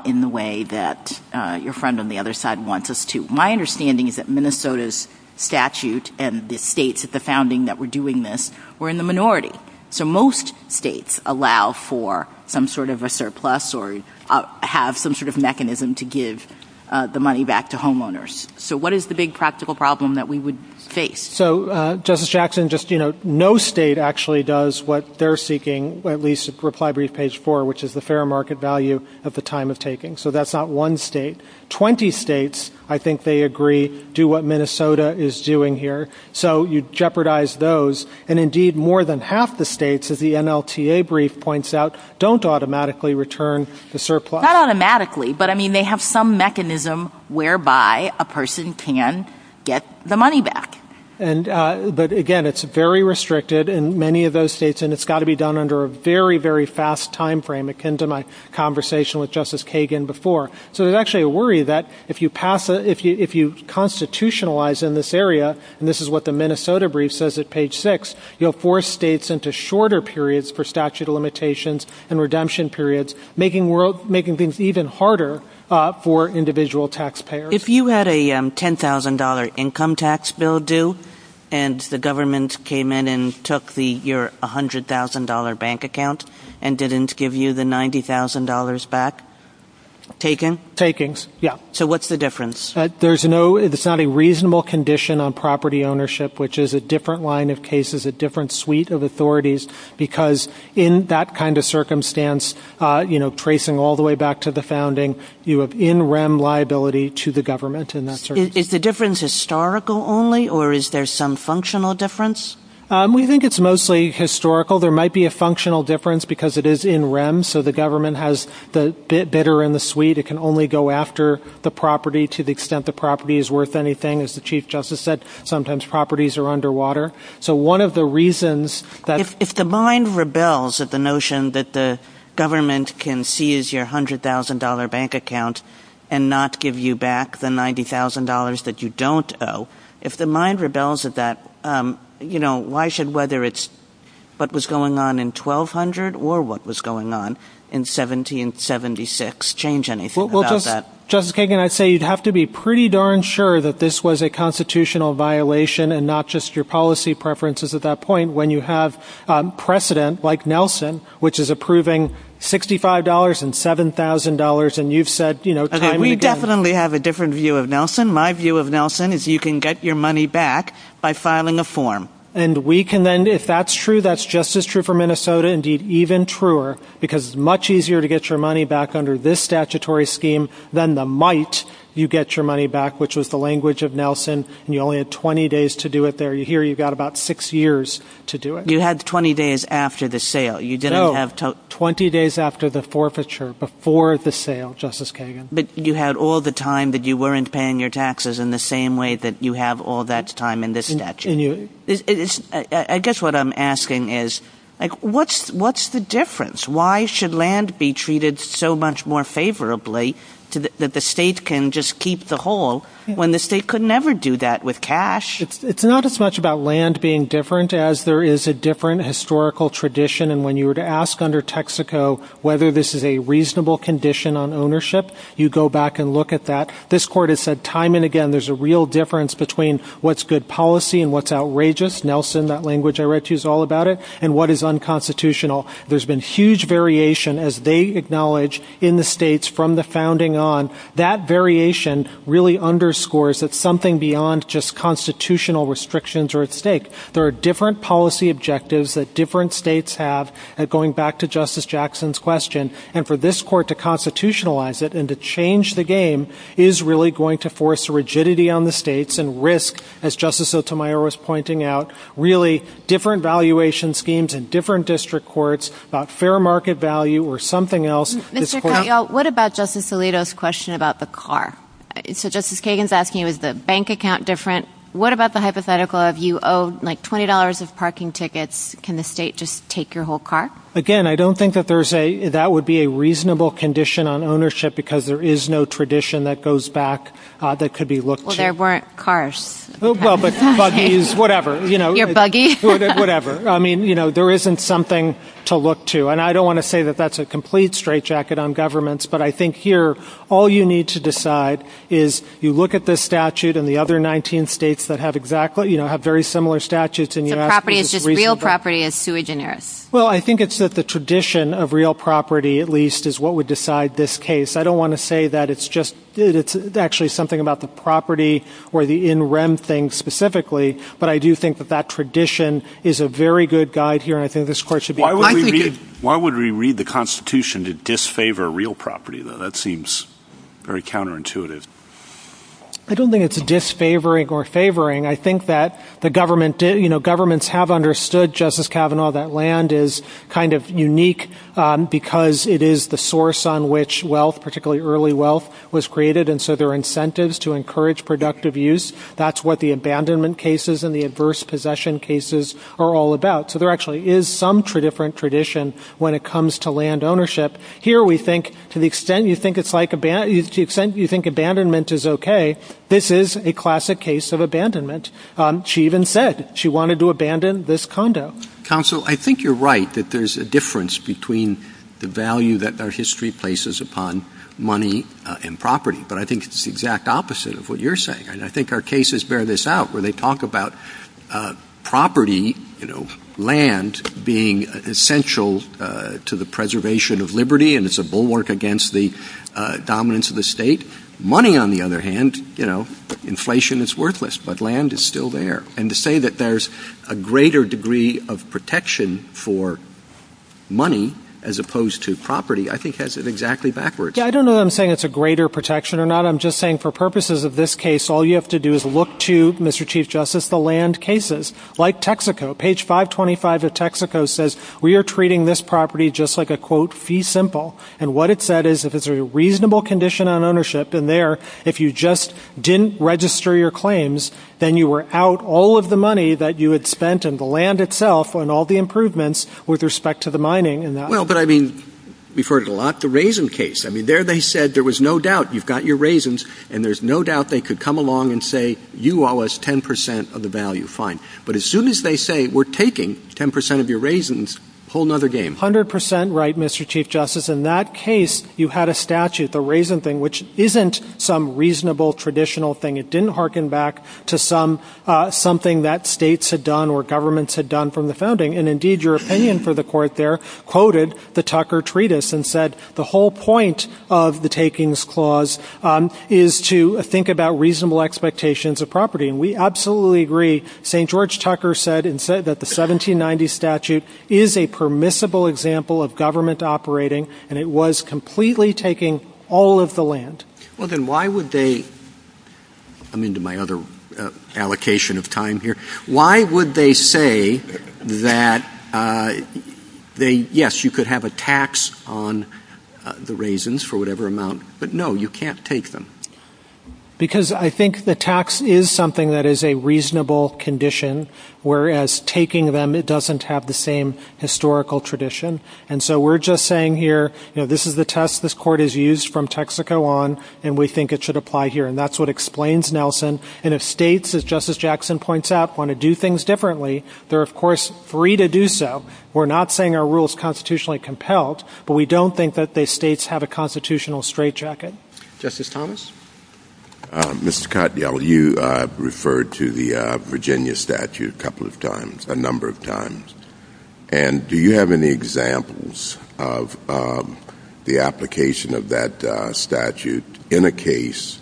in the way that your friend on the other side wants us to. My understanding is that Minnesota's statute and the states at the founding that were doing this were in the minority. So most states allow for some sort of a surplus or have some sort of mechanism to give the money back to homeowners. So what is the big practical problem that we would face? So, Justice Jackson, no state actually does what they're seeking, at least Reply Brief page 4, which is the fair market value at the time of taking. So that's not one state. Twenty states, I think they agree, do what Minnesota is doing here. So you jeopardize those. And indeed, more than half the states, as the NLTA brief points out, don't automatically return the surplus. Not automatically, but I mean they have some mechanism whereby a person can get the money back. But again, it's very restricted in many of those states, and it's got to be done under a very, very fast time frame akin to my conversation with Justice Kagan before. So there's actually a worry that if you constitutionalize in this area, and this is what the Minnesota brief says at page 6, you'll force states into shorter periods for statute of limitations and redemption periods, making things even harder for individual taxpayers. If you had a $10,000 income tax bill due, and the government came in and took your $100,000 bank account and didn't give you the $90,000 back, taken? Takings, yeah. So what's the difference? It's not a reasonable condition on property ownership, which is a different line of cases, a different suite of authorities, because in that kind of circumstance, tracing all the way back to the founding, you have in rem liability to the government in that circumstance. Is the difference historical only, or is there some functional difference? We think it's mostly historical. There might be a functional difference because it is in rem, so the government has the bidder in the suite. It can only go after the property to the extent the property is worth anything. As the Chief Justice said, sometimes properties are underwater. So one of the reasons that... If the mind rebels at the notion that the government can seize your $100,000 bank account and not give you back the $90,000 that you don't owe, if the mind rebels at that, why should whether it's what was going on in 1200 or what was going on in 1776 change anything about that? Justice Kagan, I'd say you'd have to be pretty darn sure that this was a constitutional violation and not just your policy preferences at that point when you have precedent like Nelson, which is approving $65 and $7,000, and you've said... We definitely have a different view of Nelson. My view of Nelson is you can get your money back by filing a form. And we can then, if that's true, that's just as true for Minnesota, indeed even truer, because it's much easier to get your money back under this statutory scheme than the might you get your money back, which was the language of Nelson, and you only had 20 days to do it there. Here you've got about six years to do it. You had 20 days after the sale. No, 20 days after the forfeiture, before the sale, Justice Kagan. But you had all the time that you weren't paying your taxes in the same way that you have all that time in this statute. I guess what I'm asking is, like, what's the difference? Why should land be treated so much more favorably that the state can just keep the whole when the state could never do that with cash? It's not as much about land being different as there is a different historical tradition. And when you were to ask under Texaco whether this is a reasonable condition on ownership, you go back and look at that. This court has said time and again there's a real difference between what's good policy and what's outrageous. Nelson, that language I read to you is all about it, and what is unconstitutional. There's been huge variation, as they acknowledge, in the states from the founding on. That variation really underscores that something beyond just constitutional restrictions are at stake. There are different policy objectives that different states have, and going back to Justice Jackson's question, and for this court to constitutionalize it and to change the game is really going to force rigidity on the states and risk, as Justice Sotomayor was pointing out, really different valuation schemes in different district courts, not fair market value or something else. Mr. Coggio, what about Justice Alito's question about the car? So Justice Kagan's asking, is the bank account different? What about the hypothetical of you owe, like, $20 of parking tickets. Can the state just take your whole car? Again, I don't think that would be a reasonable condition on ownership because there is no tradition that goes back that could be looked to. Well, there weren't cars. Well, but buggies, whatever. Your buggy? Whatever. I mean, you know, there isn't something to look to, and I don't want to say that that's a complete straitjacket on governments, but I think here all you need to decide is you look at this statute and the other 19 states that have exactly, you know, have very similar statutes in the United States. The property is just real property and it's sui generis. Well, I think it's that the tradition of real property, at least, is what would decide this case. I don't want to say that it's just, it's actually something about the property or the in rem thing specifically, but I do think that that tradition is a very good guide here, and I think this court should be. Why would we read the Constitution to disfavor real property, though? That seems very counterintuitive. I don't think it's a disfavoring or favoring. I think that the government, you know, governments have understood, Justice Kavanaugh, that land is kind of unique because it is the source on which wealth, particularly early wealth, was created, and so there are incentives to encourage productive use. That's what the abandonment cases and the adverse possession cases are all about. So there actually is some different tradition when it comes to land ownership. Here we think to the extent you think abandonment is okay, this is a classic case of abandonment. She even said she wanted to abandon this condo. Counsel, I think you're right that there's a difference between the value that our history places upon money and property, but I think it's the exact opposite of what you're saying, and I think our cases bear this out, where they talk about property, you know, land being essential to the preservation of liberty, and it's a bulwark against the dominance of the state. Money, on the other hand, you know, inflation is worthless, but land is still there. And to say that there's a greater degree of protection for money as opposed to property I think has it exactly backwards. I don't know if I'm saying it's a greater protection or not. I think I'm just saying for purposes of this case, all you have to do is look to, Mr. Chief Justice, the land cases. Like Texaco, page 525 of Texaco says we are treating this property just like a, quote, fee simple. And what it said is if it's a reasonable condition on ownership in there, if you just didn't register your claims, then you were out all of the money that you had spent in the land itself and all the improvements with respect to the mining in that land. Well, but, I mean, we've heard a lot to raisin case. I mean, there they said there was no doubt you've got your raisins, and there's no doubt they could come along and say you owe us 10% of the value. Fine. But as soon as they say we're taking 10% of your raisins, whole nother game. 100% right, Mr. Chief Justice. In that case, you had a statute, the raisin thing, which isn't some reasonable traditional thing. It didn't hearken back to something that states had done or governments had done from the founding. And, indeed, your opinion for the court there quoted the Tucker treatise and said the whole point of the takings clause is to think about reasonable expectations of property. And we absolutely agree. St. George Tucker said that the 1790 statute is a permissible example of government operating, and it was completely taking all of the land. Well, then why would they, I'm into my other allocation of time here, why would they say that they, yes, you could have a tax on the raisins for whatever amount, but, no, you can't take them? Because I think the tax is something that is a reasonable condition, whereas taking them, it doesn't have the same historical tradition. And so we're just saying here, you know, this is the test this court has used from Texaco on, and we think it should apply here, and that's what explains Nelson. And if states, as Justice Jackson points out, want to do things differently, they're, of course, free to do so. We're not saying our rule is constitutionally compelled, but we don't think that the states have a constitutional straitjacket. Justice Thomas? Mr. Cottrell, you referred to the Virginia statute a couple of times, a number of times. And do you have any examples of the application of that statute in a case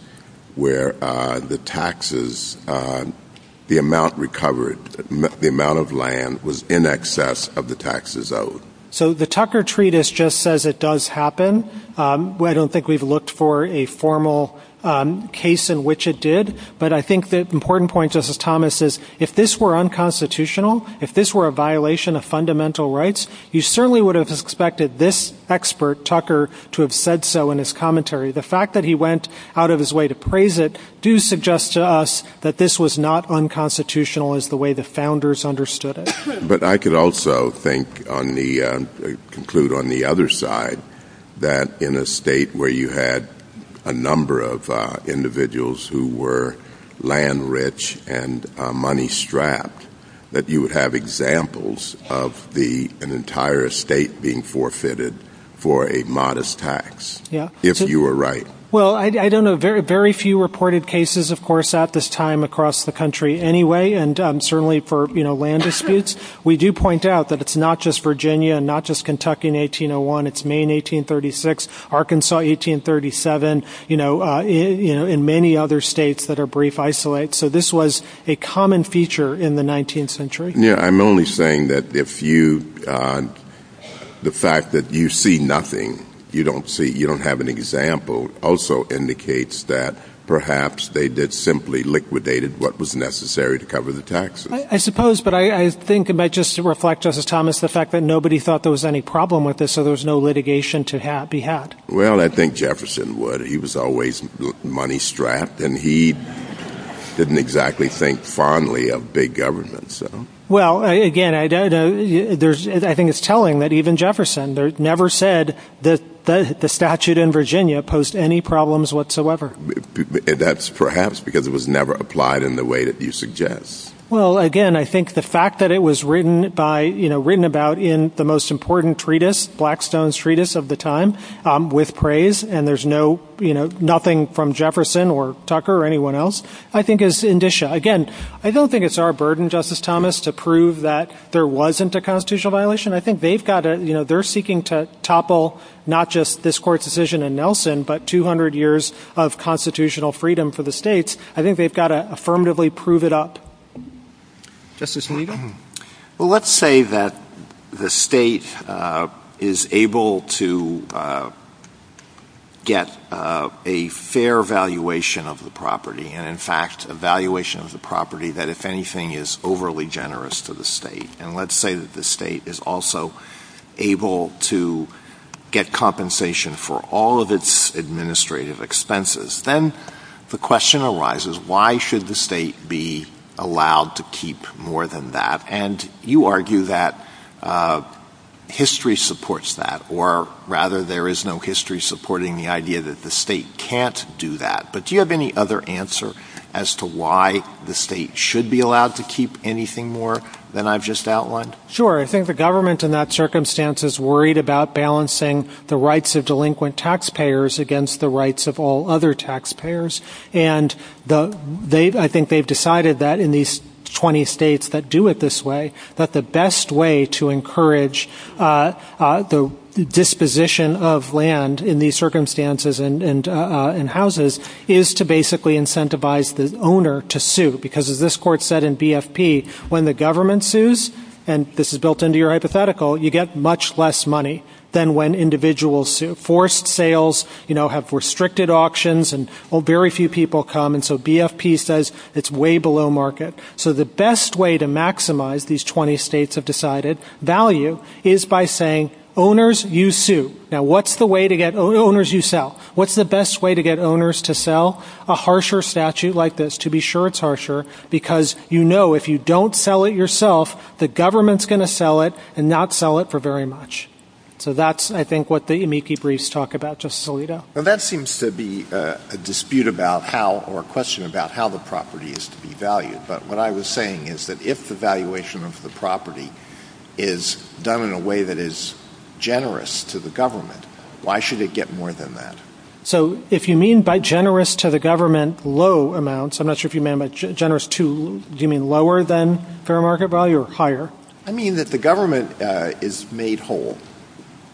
where the taxes, the amount recovered, the amount of land was in excess of the taxes owed? So the Tucker Treatise just says it does happen. I don't think we've looked for a formal case in which it did, but I think the important point, Justice Thomas, is if this were unconstitutional, if this were a violation of fundamental rights, you certainly would have expected this expert, Tucker, to have said so in his commentary. The fact that he went out of his way to praise it do suggest to us that this was not unconstitutional as the way the founders understood it. But I could also conclude on the other side that in a state where you had a number of individuals who were land rich and money strapped, that you would have examples of an entire state being forfeited for a modest tax, if you were right. Well, I don't know. There are very few reported cases, of course, at this time across the country anyway, and certainly for land disputes. We do point out that it's not just Virginia and not just Kentucky in 1801. It's Maine 1836, Arkansas 1837, and many other states that are brief isolates. So this was a common feature in the 19th century. I'm only saying that the fact that you see nothing, you don't see, you don't have an example, also indicates that perhaps they did simply liquidated what was necessary to cover the taxes. I suppose, but I think it might just reflect, Justice Thomas, the fact that nobody thought there was any problem with this, so there was no litigation to be had. Well, I think Jefferson would. He was always money strapped, and he didn't exactly think fondly of big government. Well, again, I think it's telling that even Jefferson never said that the statute in Virginia posed any problems whatsoever. That's perhaps because it was never applied in the way that you suggest. Well, again, I think the fact that it was written about in the most important treatise, Blackstone's treatise of the time, with praise, and there's no, you know, nothing from Jefferson or Tucker or anyone else, I think is indicia. Again, I don't think it's our burden, Justice Thomas, to prove that there wasn't a constitutional violation. I think they've got to, you know, they're seeking to topple not just this court's decision in Nelson, but 200 years of constitutional freedom for the states. I think they've got to affirmatively prove it up. Justice Levy? Well, let's say that the state is able to get a fair valuation of the property, and, in fact, a valuation of the property that, if anything, is overly generous to the state. And let's say that the state is also able to get compensation for all of its administrative expenses. Then the question arises, why should the state be allowed to keep more than that? And you argue that history supports that, or, rather, there is no history supporting the idea that the state can't do that. But do you have any other answer as to why the state should be allowed to keep anything more than I've just outlined? Sure. I think the government in that circumstance is worried about balancing the rights of delinquent taxpayers against the rights of all other taxpayers. And I think they've decided that in these 20 states that do it this way, that the best way to encourage the disposition of land in these circumstances and houses is to basically incentivize the owner to sue. Because, as this court said in BFP, when the government sues, and this is built into your hypothetical, you get much less money than when individuals sue. Forced sales, you know, have restricted auctions, and very few people come. And so BFP says it's way below market. So the best way to maximize, these 20 states have decided, value is by saying, owners, you sue. Now, what's the way to get owners to sell? A harsher statute like this, to be sure it's harsher, because you know if you don't sell it yourself, the government's going to sell it and not sell it for very much. So that's, I think, what the amici briefs talk about. Justice Alito? Well, that seems to be a dispute about how, or a question about how the property is to be valued. But what I was saying is that if the valuation of the property is done in a way that is generous to the government, why should it get more than that? So if you mean by generous to the government, low amounts, I'm not sure if you meant by generous to, do you mean lower than fair market value or higher? I mean that the government is made whole.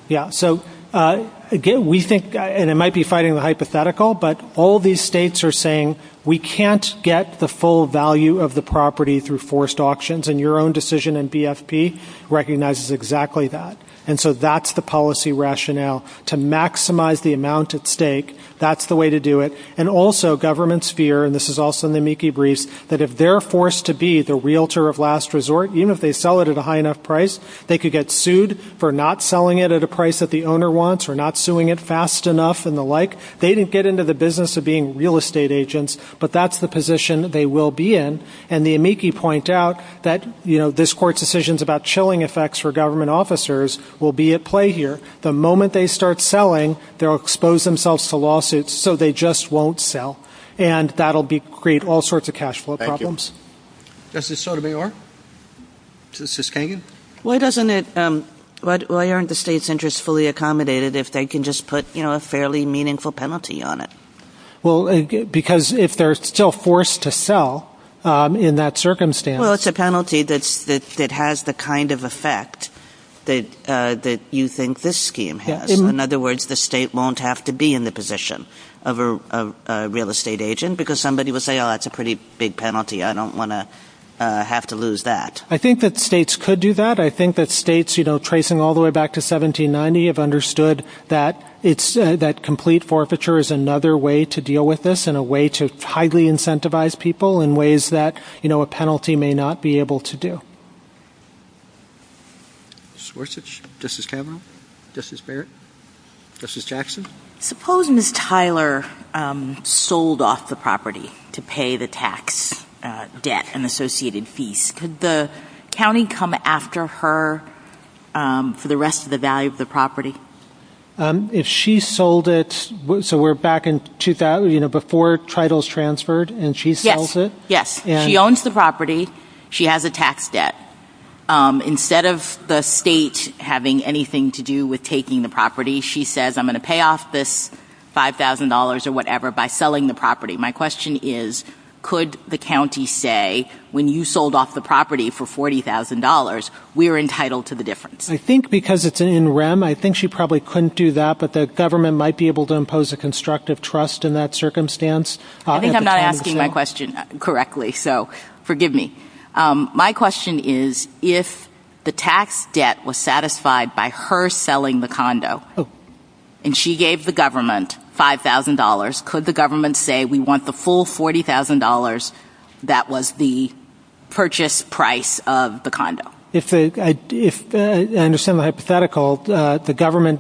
Yeah, so again, we think, and it might be fighting the hypothetical, but all these states are saying we can't get the full value of the property through forced auctions, and your own decision in BFP recognizes exactly that. And so that's the policy rationale. To maximize the amount at stake, that's the way to do it. And also government's fear, and this is also in the amici briefs, that if they're forced to be the realtor of last resort, even if they sell it at a high enough price, they could get sued for not selling it at a price that the owner wants or not suing it fast enough and the like. They didn't get into the business of being real estate agents, but that's the position they will be in. And the amici point out that this court's decisions about chilling effects for government officers will be at play here. The moment they start selling, they'll expose themselves to lawsuits, so they just won't sell. And that will create all sorts of cash flow problems. Thank you. Does this show who they are? Why aren't the state centers fully accommodated if they can just put a fairly meaningful penalty on it? Well, because if they're still forced to sell in that circumstance... Well, it's a penalty that has the kind of effect that you think this scheme has. In other words, the state won't have to be in the position of a real estate agent, because somebody will say, oh, that's a pretty big penalty. I don't want to have to lose that. I think that states could do that. I think that states, tracing all the way back to 1790, have understood that complete forfeiture is another way to deal with this and a way to highly incentivize people in ways that a penalty may not be able to do. Suppose Ms. Tyler sold off the property to pay the tax debt and associated fees. Could the county come after her for the rest of the value of the property? If she sold it... So we're back in 2000, before titles transferred, and she sells it? Yes. She owns the property. She has a tax debt. Instead of the state having anything to do with taking the property, she says, I'm going to pay off this $5,000 or whatever by selling the property. My question is, could the county say, when you sold off the property for $40,000, we're entitled to the difference? I think because it's in REM, I think she probably couldn't do that, but the government might be able to impose a constructive trust in that circumstance. I think I'm not asking my question correctly, so forgive me. My question is, if the tax debt was satisfied by her selling the condo, and she gave the government $5,000, could the government say, we want the full $40,000 that was the purchase price of the condo? I understand the hypothetical.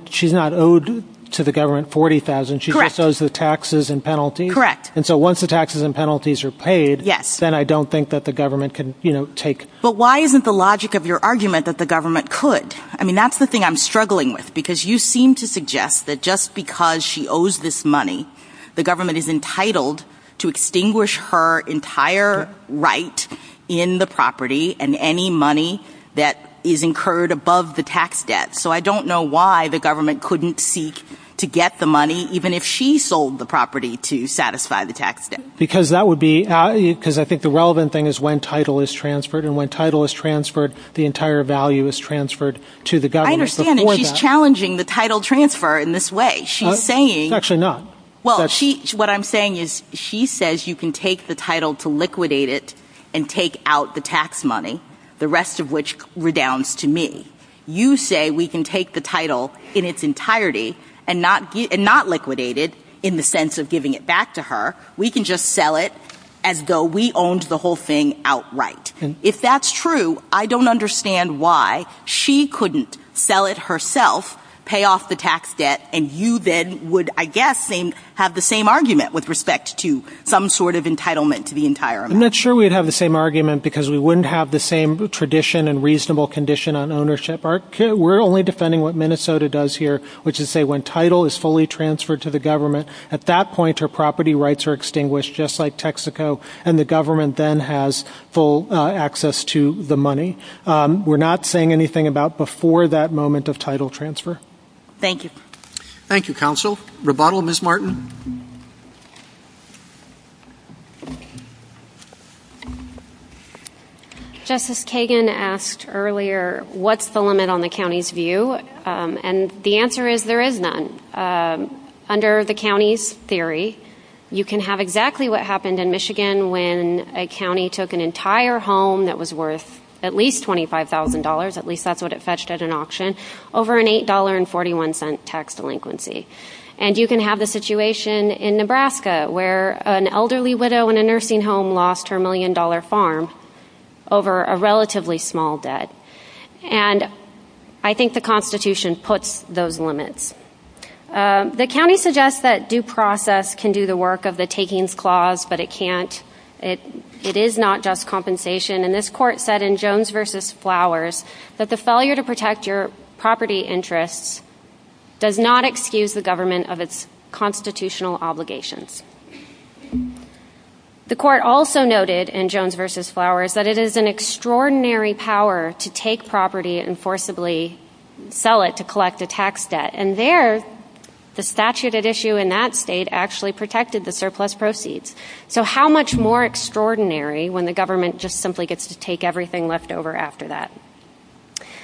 She's not owed to the government $40,000. She just owes the taxes and penalties. Correct. Once the taxes and penalties are paid, then I don't think that the government can take... But why isn't the logic of your argument that the government could? I mean, that's the thing I'm struggling with, because you seem to suggest that just because she owes this money, the government is entitled to extinguish her entire right in the property and any money that is incurred above the tax debt. So I don't know why the government couldn't seek to get the money, even if she sold the property to satisfy the tax debt. Because I think the relevant thing is when title is transferred, and when title is transferred, the entire value is transferred to the government. I understand that she's challenging the title transfer in this way. She's saying... Actually, no. Well, what I'm saying is she says you can take the title to liquidate it and take out the tax money, the rest of which redounds to me. You say we can take the title in its entirety and not liquidate it in the sense of giving it back to her. We can just sell it as though we owned the whole thing outright. If that's true, I don't understand why she couldn't sell it herself, pay off the tax debt, and you then would, I guess, have the same argument with respect to some sort of entitlement to the entire amount. I'm not sure we'd have the same argument, because we wouldn't have the same tradition and reasonable condition on ownership. We're only defending what Minnesota does here, which is say when title is fully transferred to the government, at that point her property rights are extinguished, just like Texaco, and the government then has full access to the money. We're not saying anything about before that moment of title transfer. Thank you. Thank you, counsel. Rebuttal, Ms. Martin. Justice Kagan asked earlier what's the limit on the county's view, and the answer is there is none. Under the county's theory, you can have exactly what happened in Michigan when a county took an entire home that was worth at least $25,000, at least that's what it fetched at an auction, over an $8.41 tax delinquency. And you can have the situation in Nebraska, where an elderly widow in a nursing home lost her million-dollar farm over a relatively small debt. And I think the Constitution puts those limits. The county suggests that due process can do the work of the takings clause, but it can't. It is not just compensation, and this court said in Jones v. Flowers that the failure to protect your property interests does not excuse the government of its constitutional obligations. The court also noted in Jones v. Flowers that it is an extraordinary power to take property and forcibly sell it to collect a tax debt, and there the statute at issue in that state actually protected the surplus proceeds. So how much more extraordinary when the government just simply gets to take everything left over after that?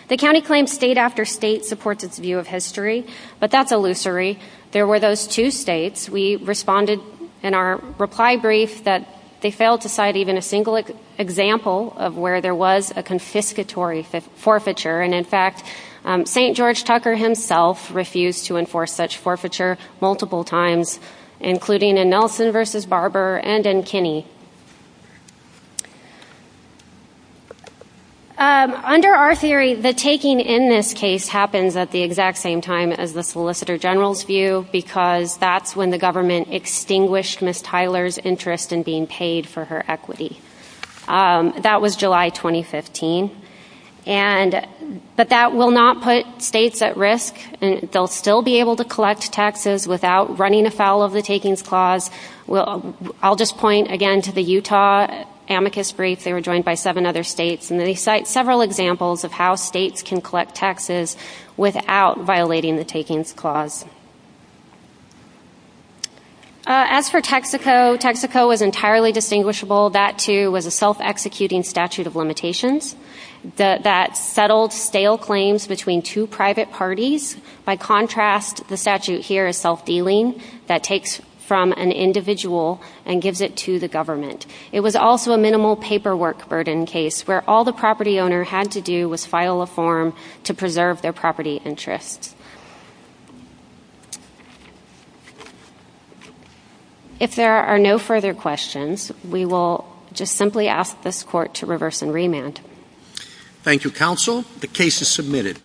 The county claims state after state supports its view of history, but that's illusory. There were those two states. We responded in our reply brief that they failed to cite even a single example of where there was a confiscatory forfeiture, and in fact, St. George Tucker himself refused to enforce such forfeiture multiple times, including in Nelson v. Barber and in Kinney. Under our theory, the taking in this case happens at the exact same time as the Solicitor General's view because that's when the government extinguished Ms. Tyler's interest in being paid for her equity. That was July 2015. But that will not put states at risk. They'll still be able to collect taxes without running afoul of the Takings Clause. I'll just point again to the Utah amicus brief. They were joined by seven other states, and they cite several examples of how states can collect taxes without violating the Takings Clause. As for Texaco, Texaco was entirely distinguishable. That, too, was a self-executing statute of limitations that settled stale claims between two private parties. By contrast, the statute here is self-dealing, that takes from an individual and gives it to the government. It was also a minimal paperwork burden case where all the property owner had to do was file a form to preserve their property interest. If there are no further questions, we will just simply ask this Court to reverse and remand. Thank you, Counsel. The case is submitted.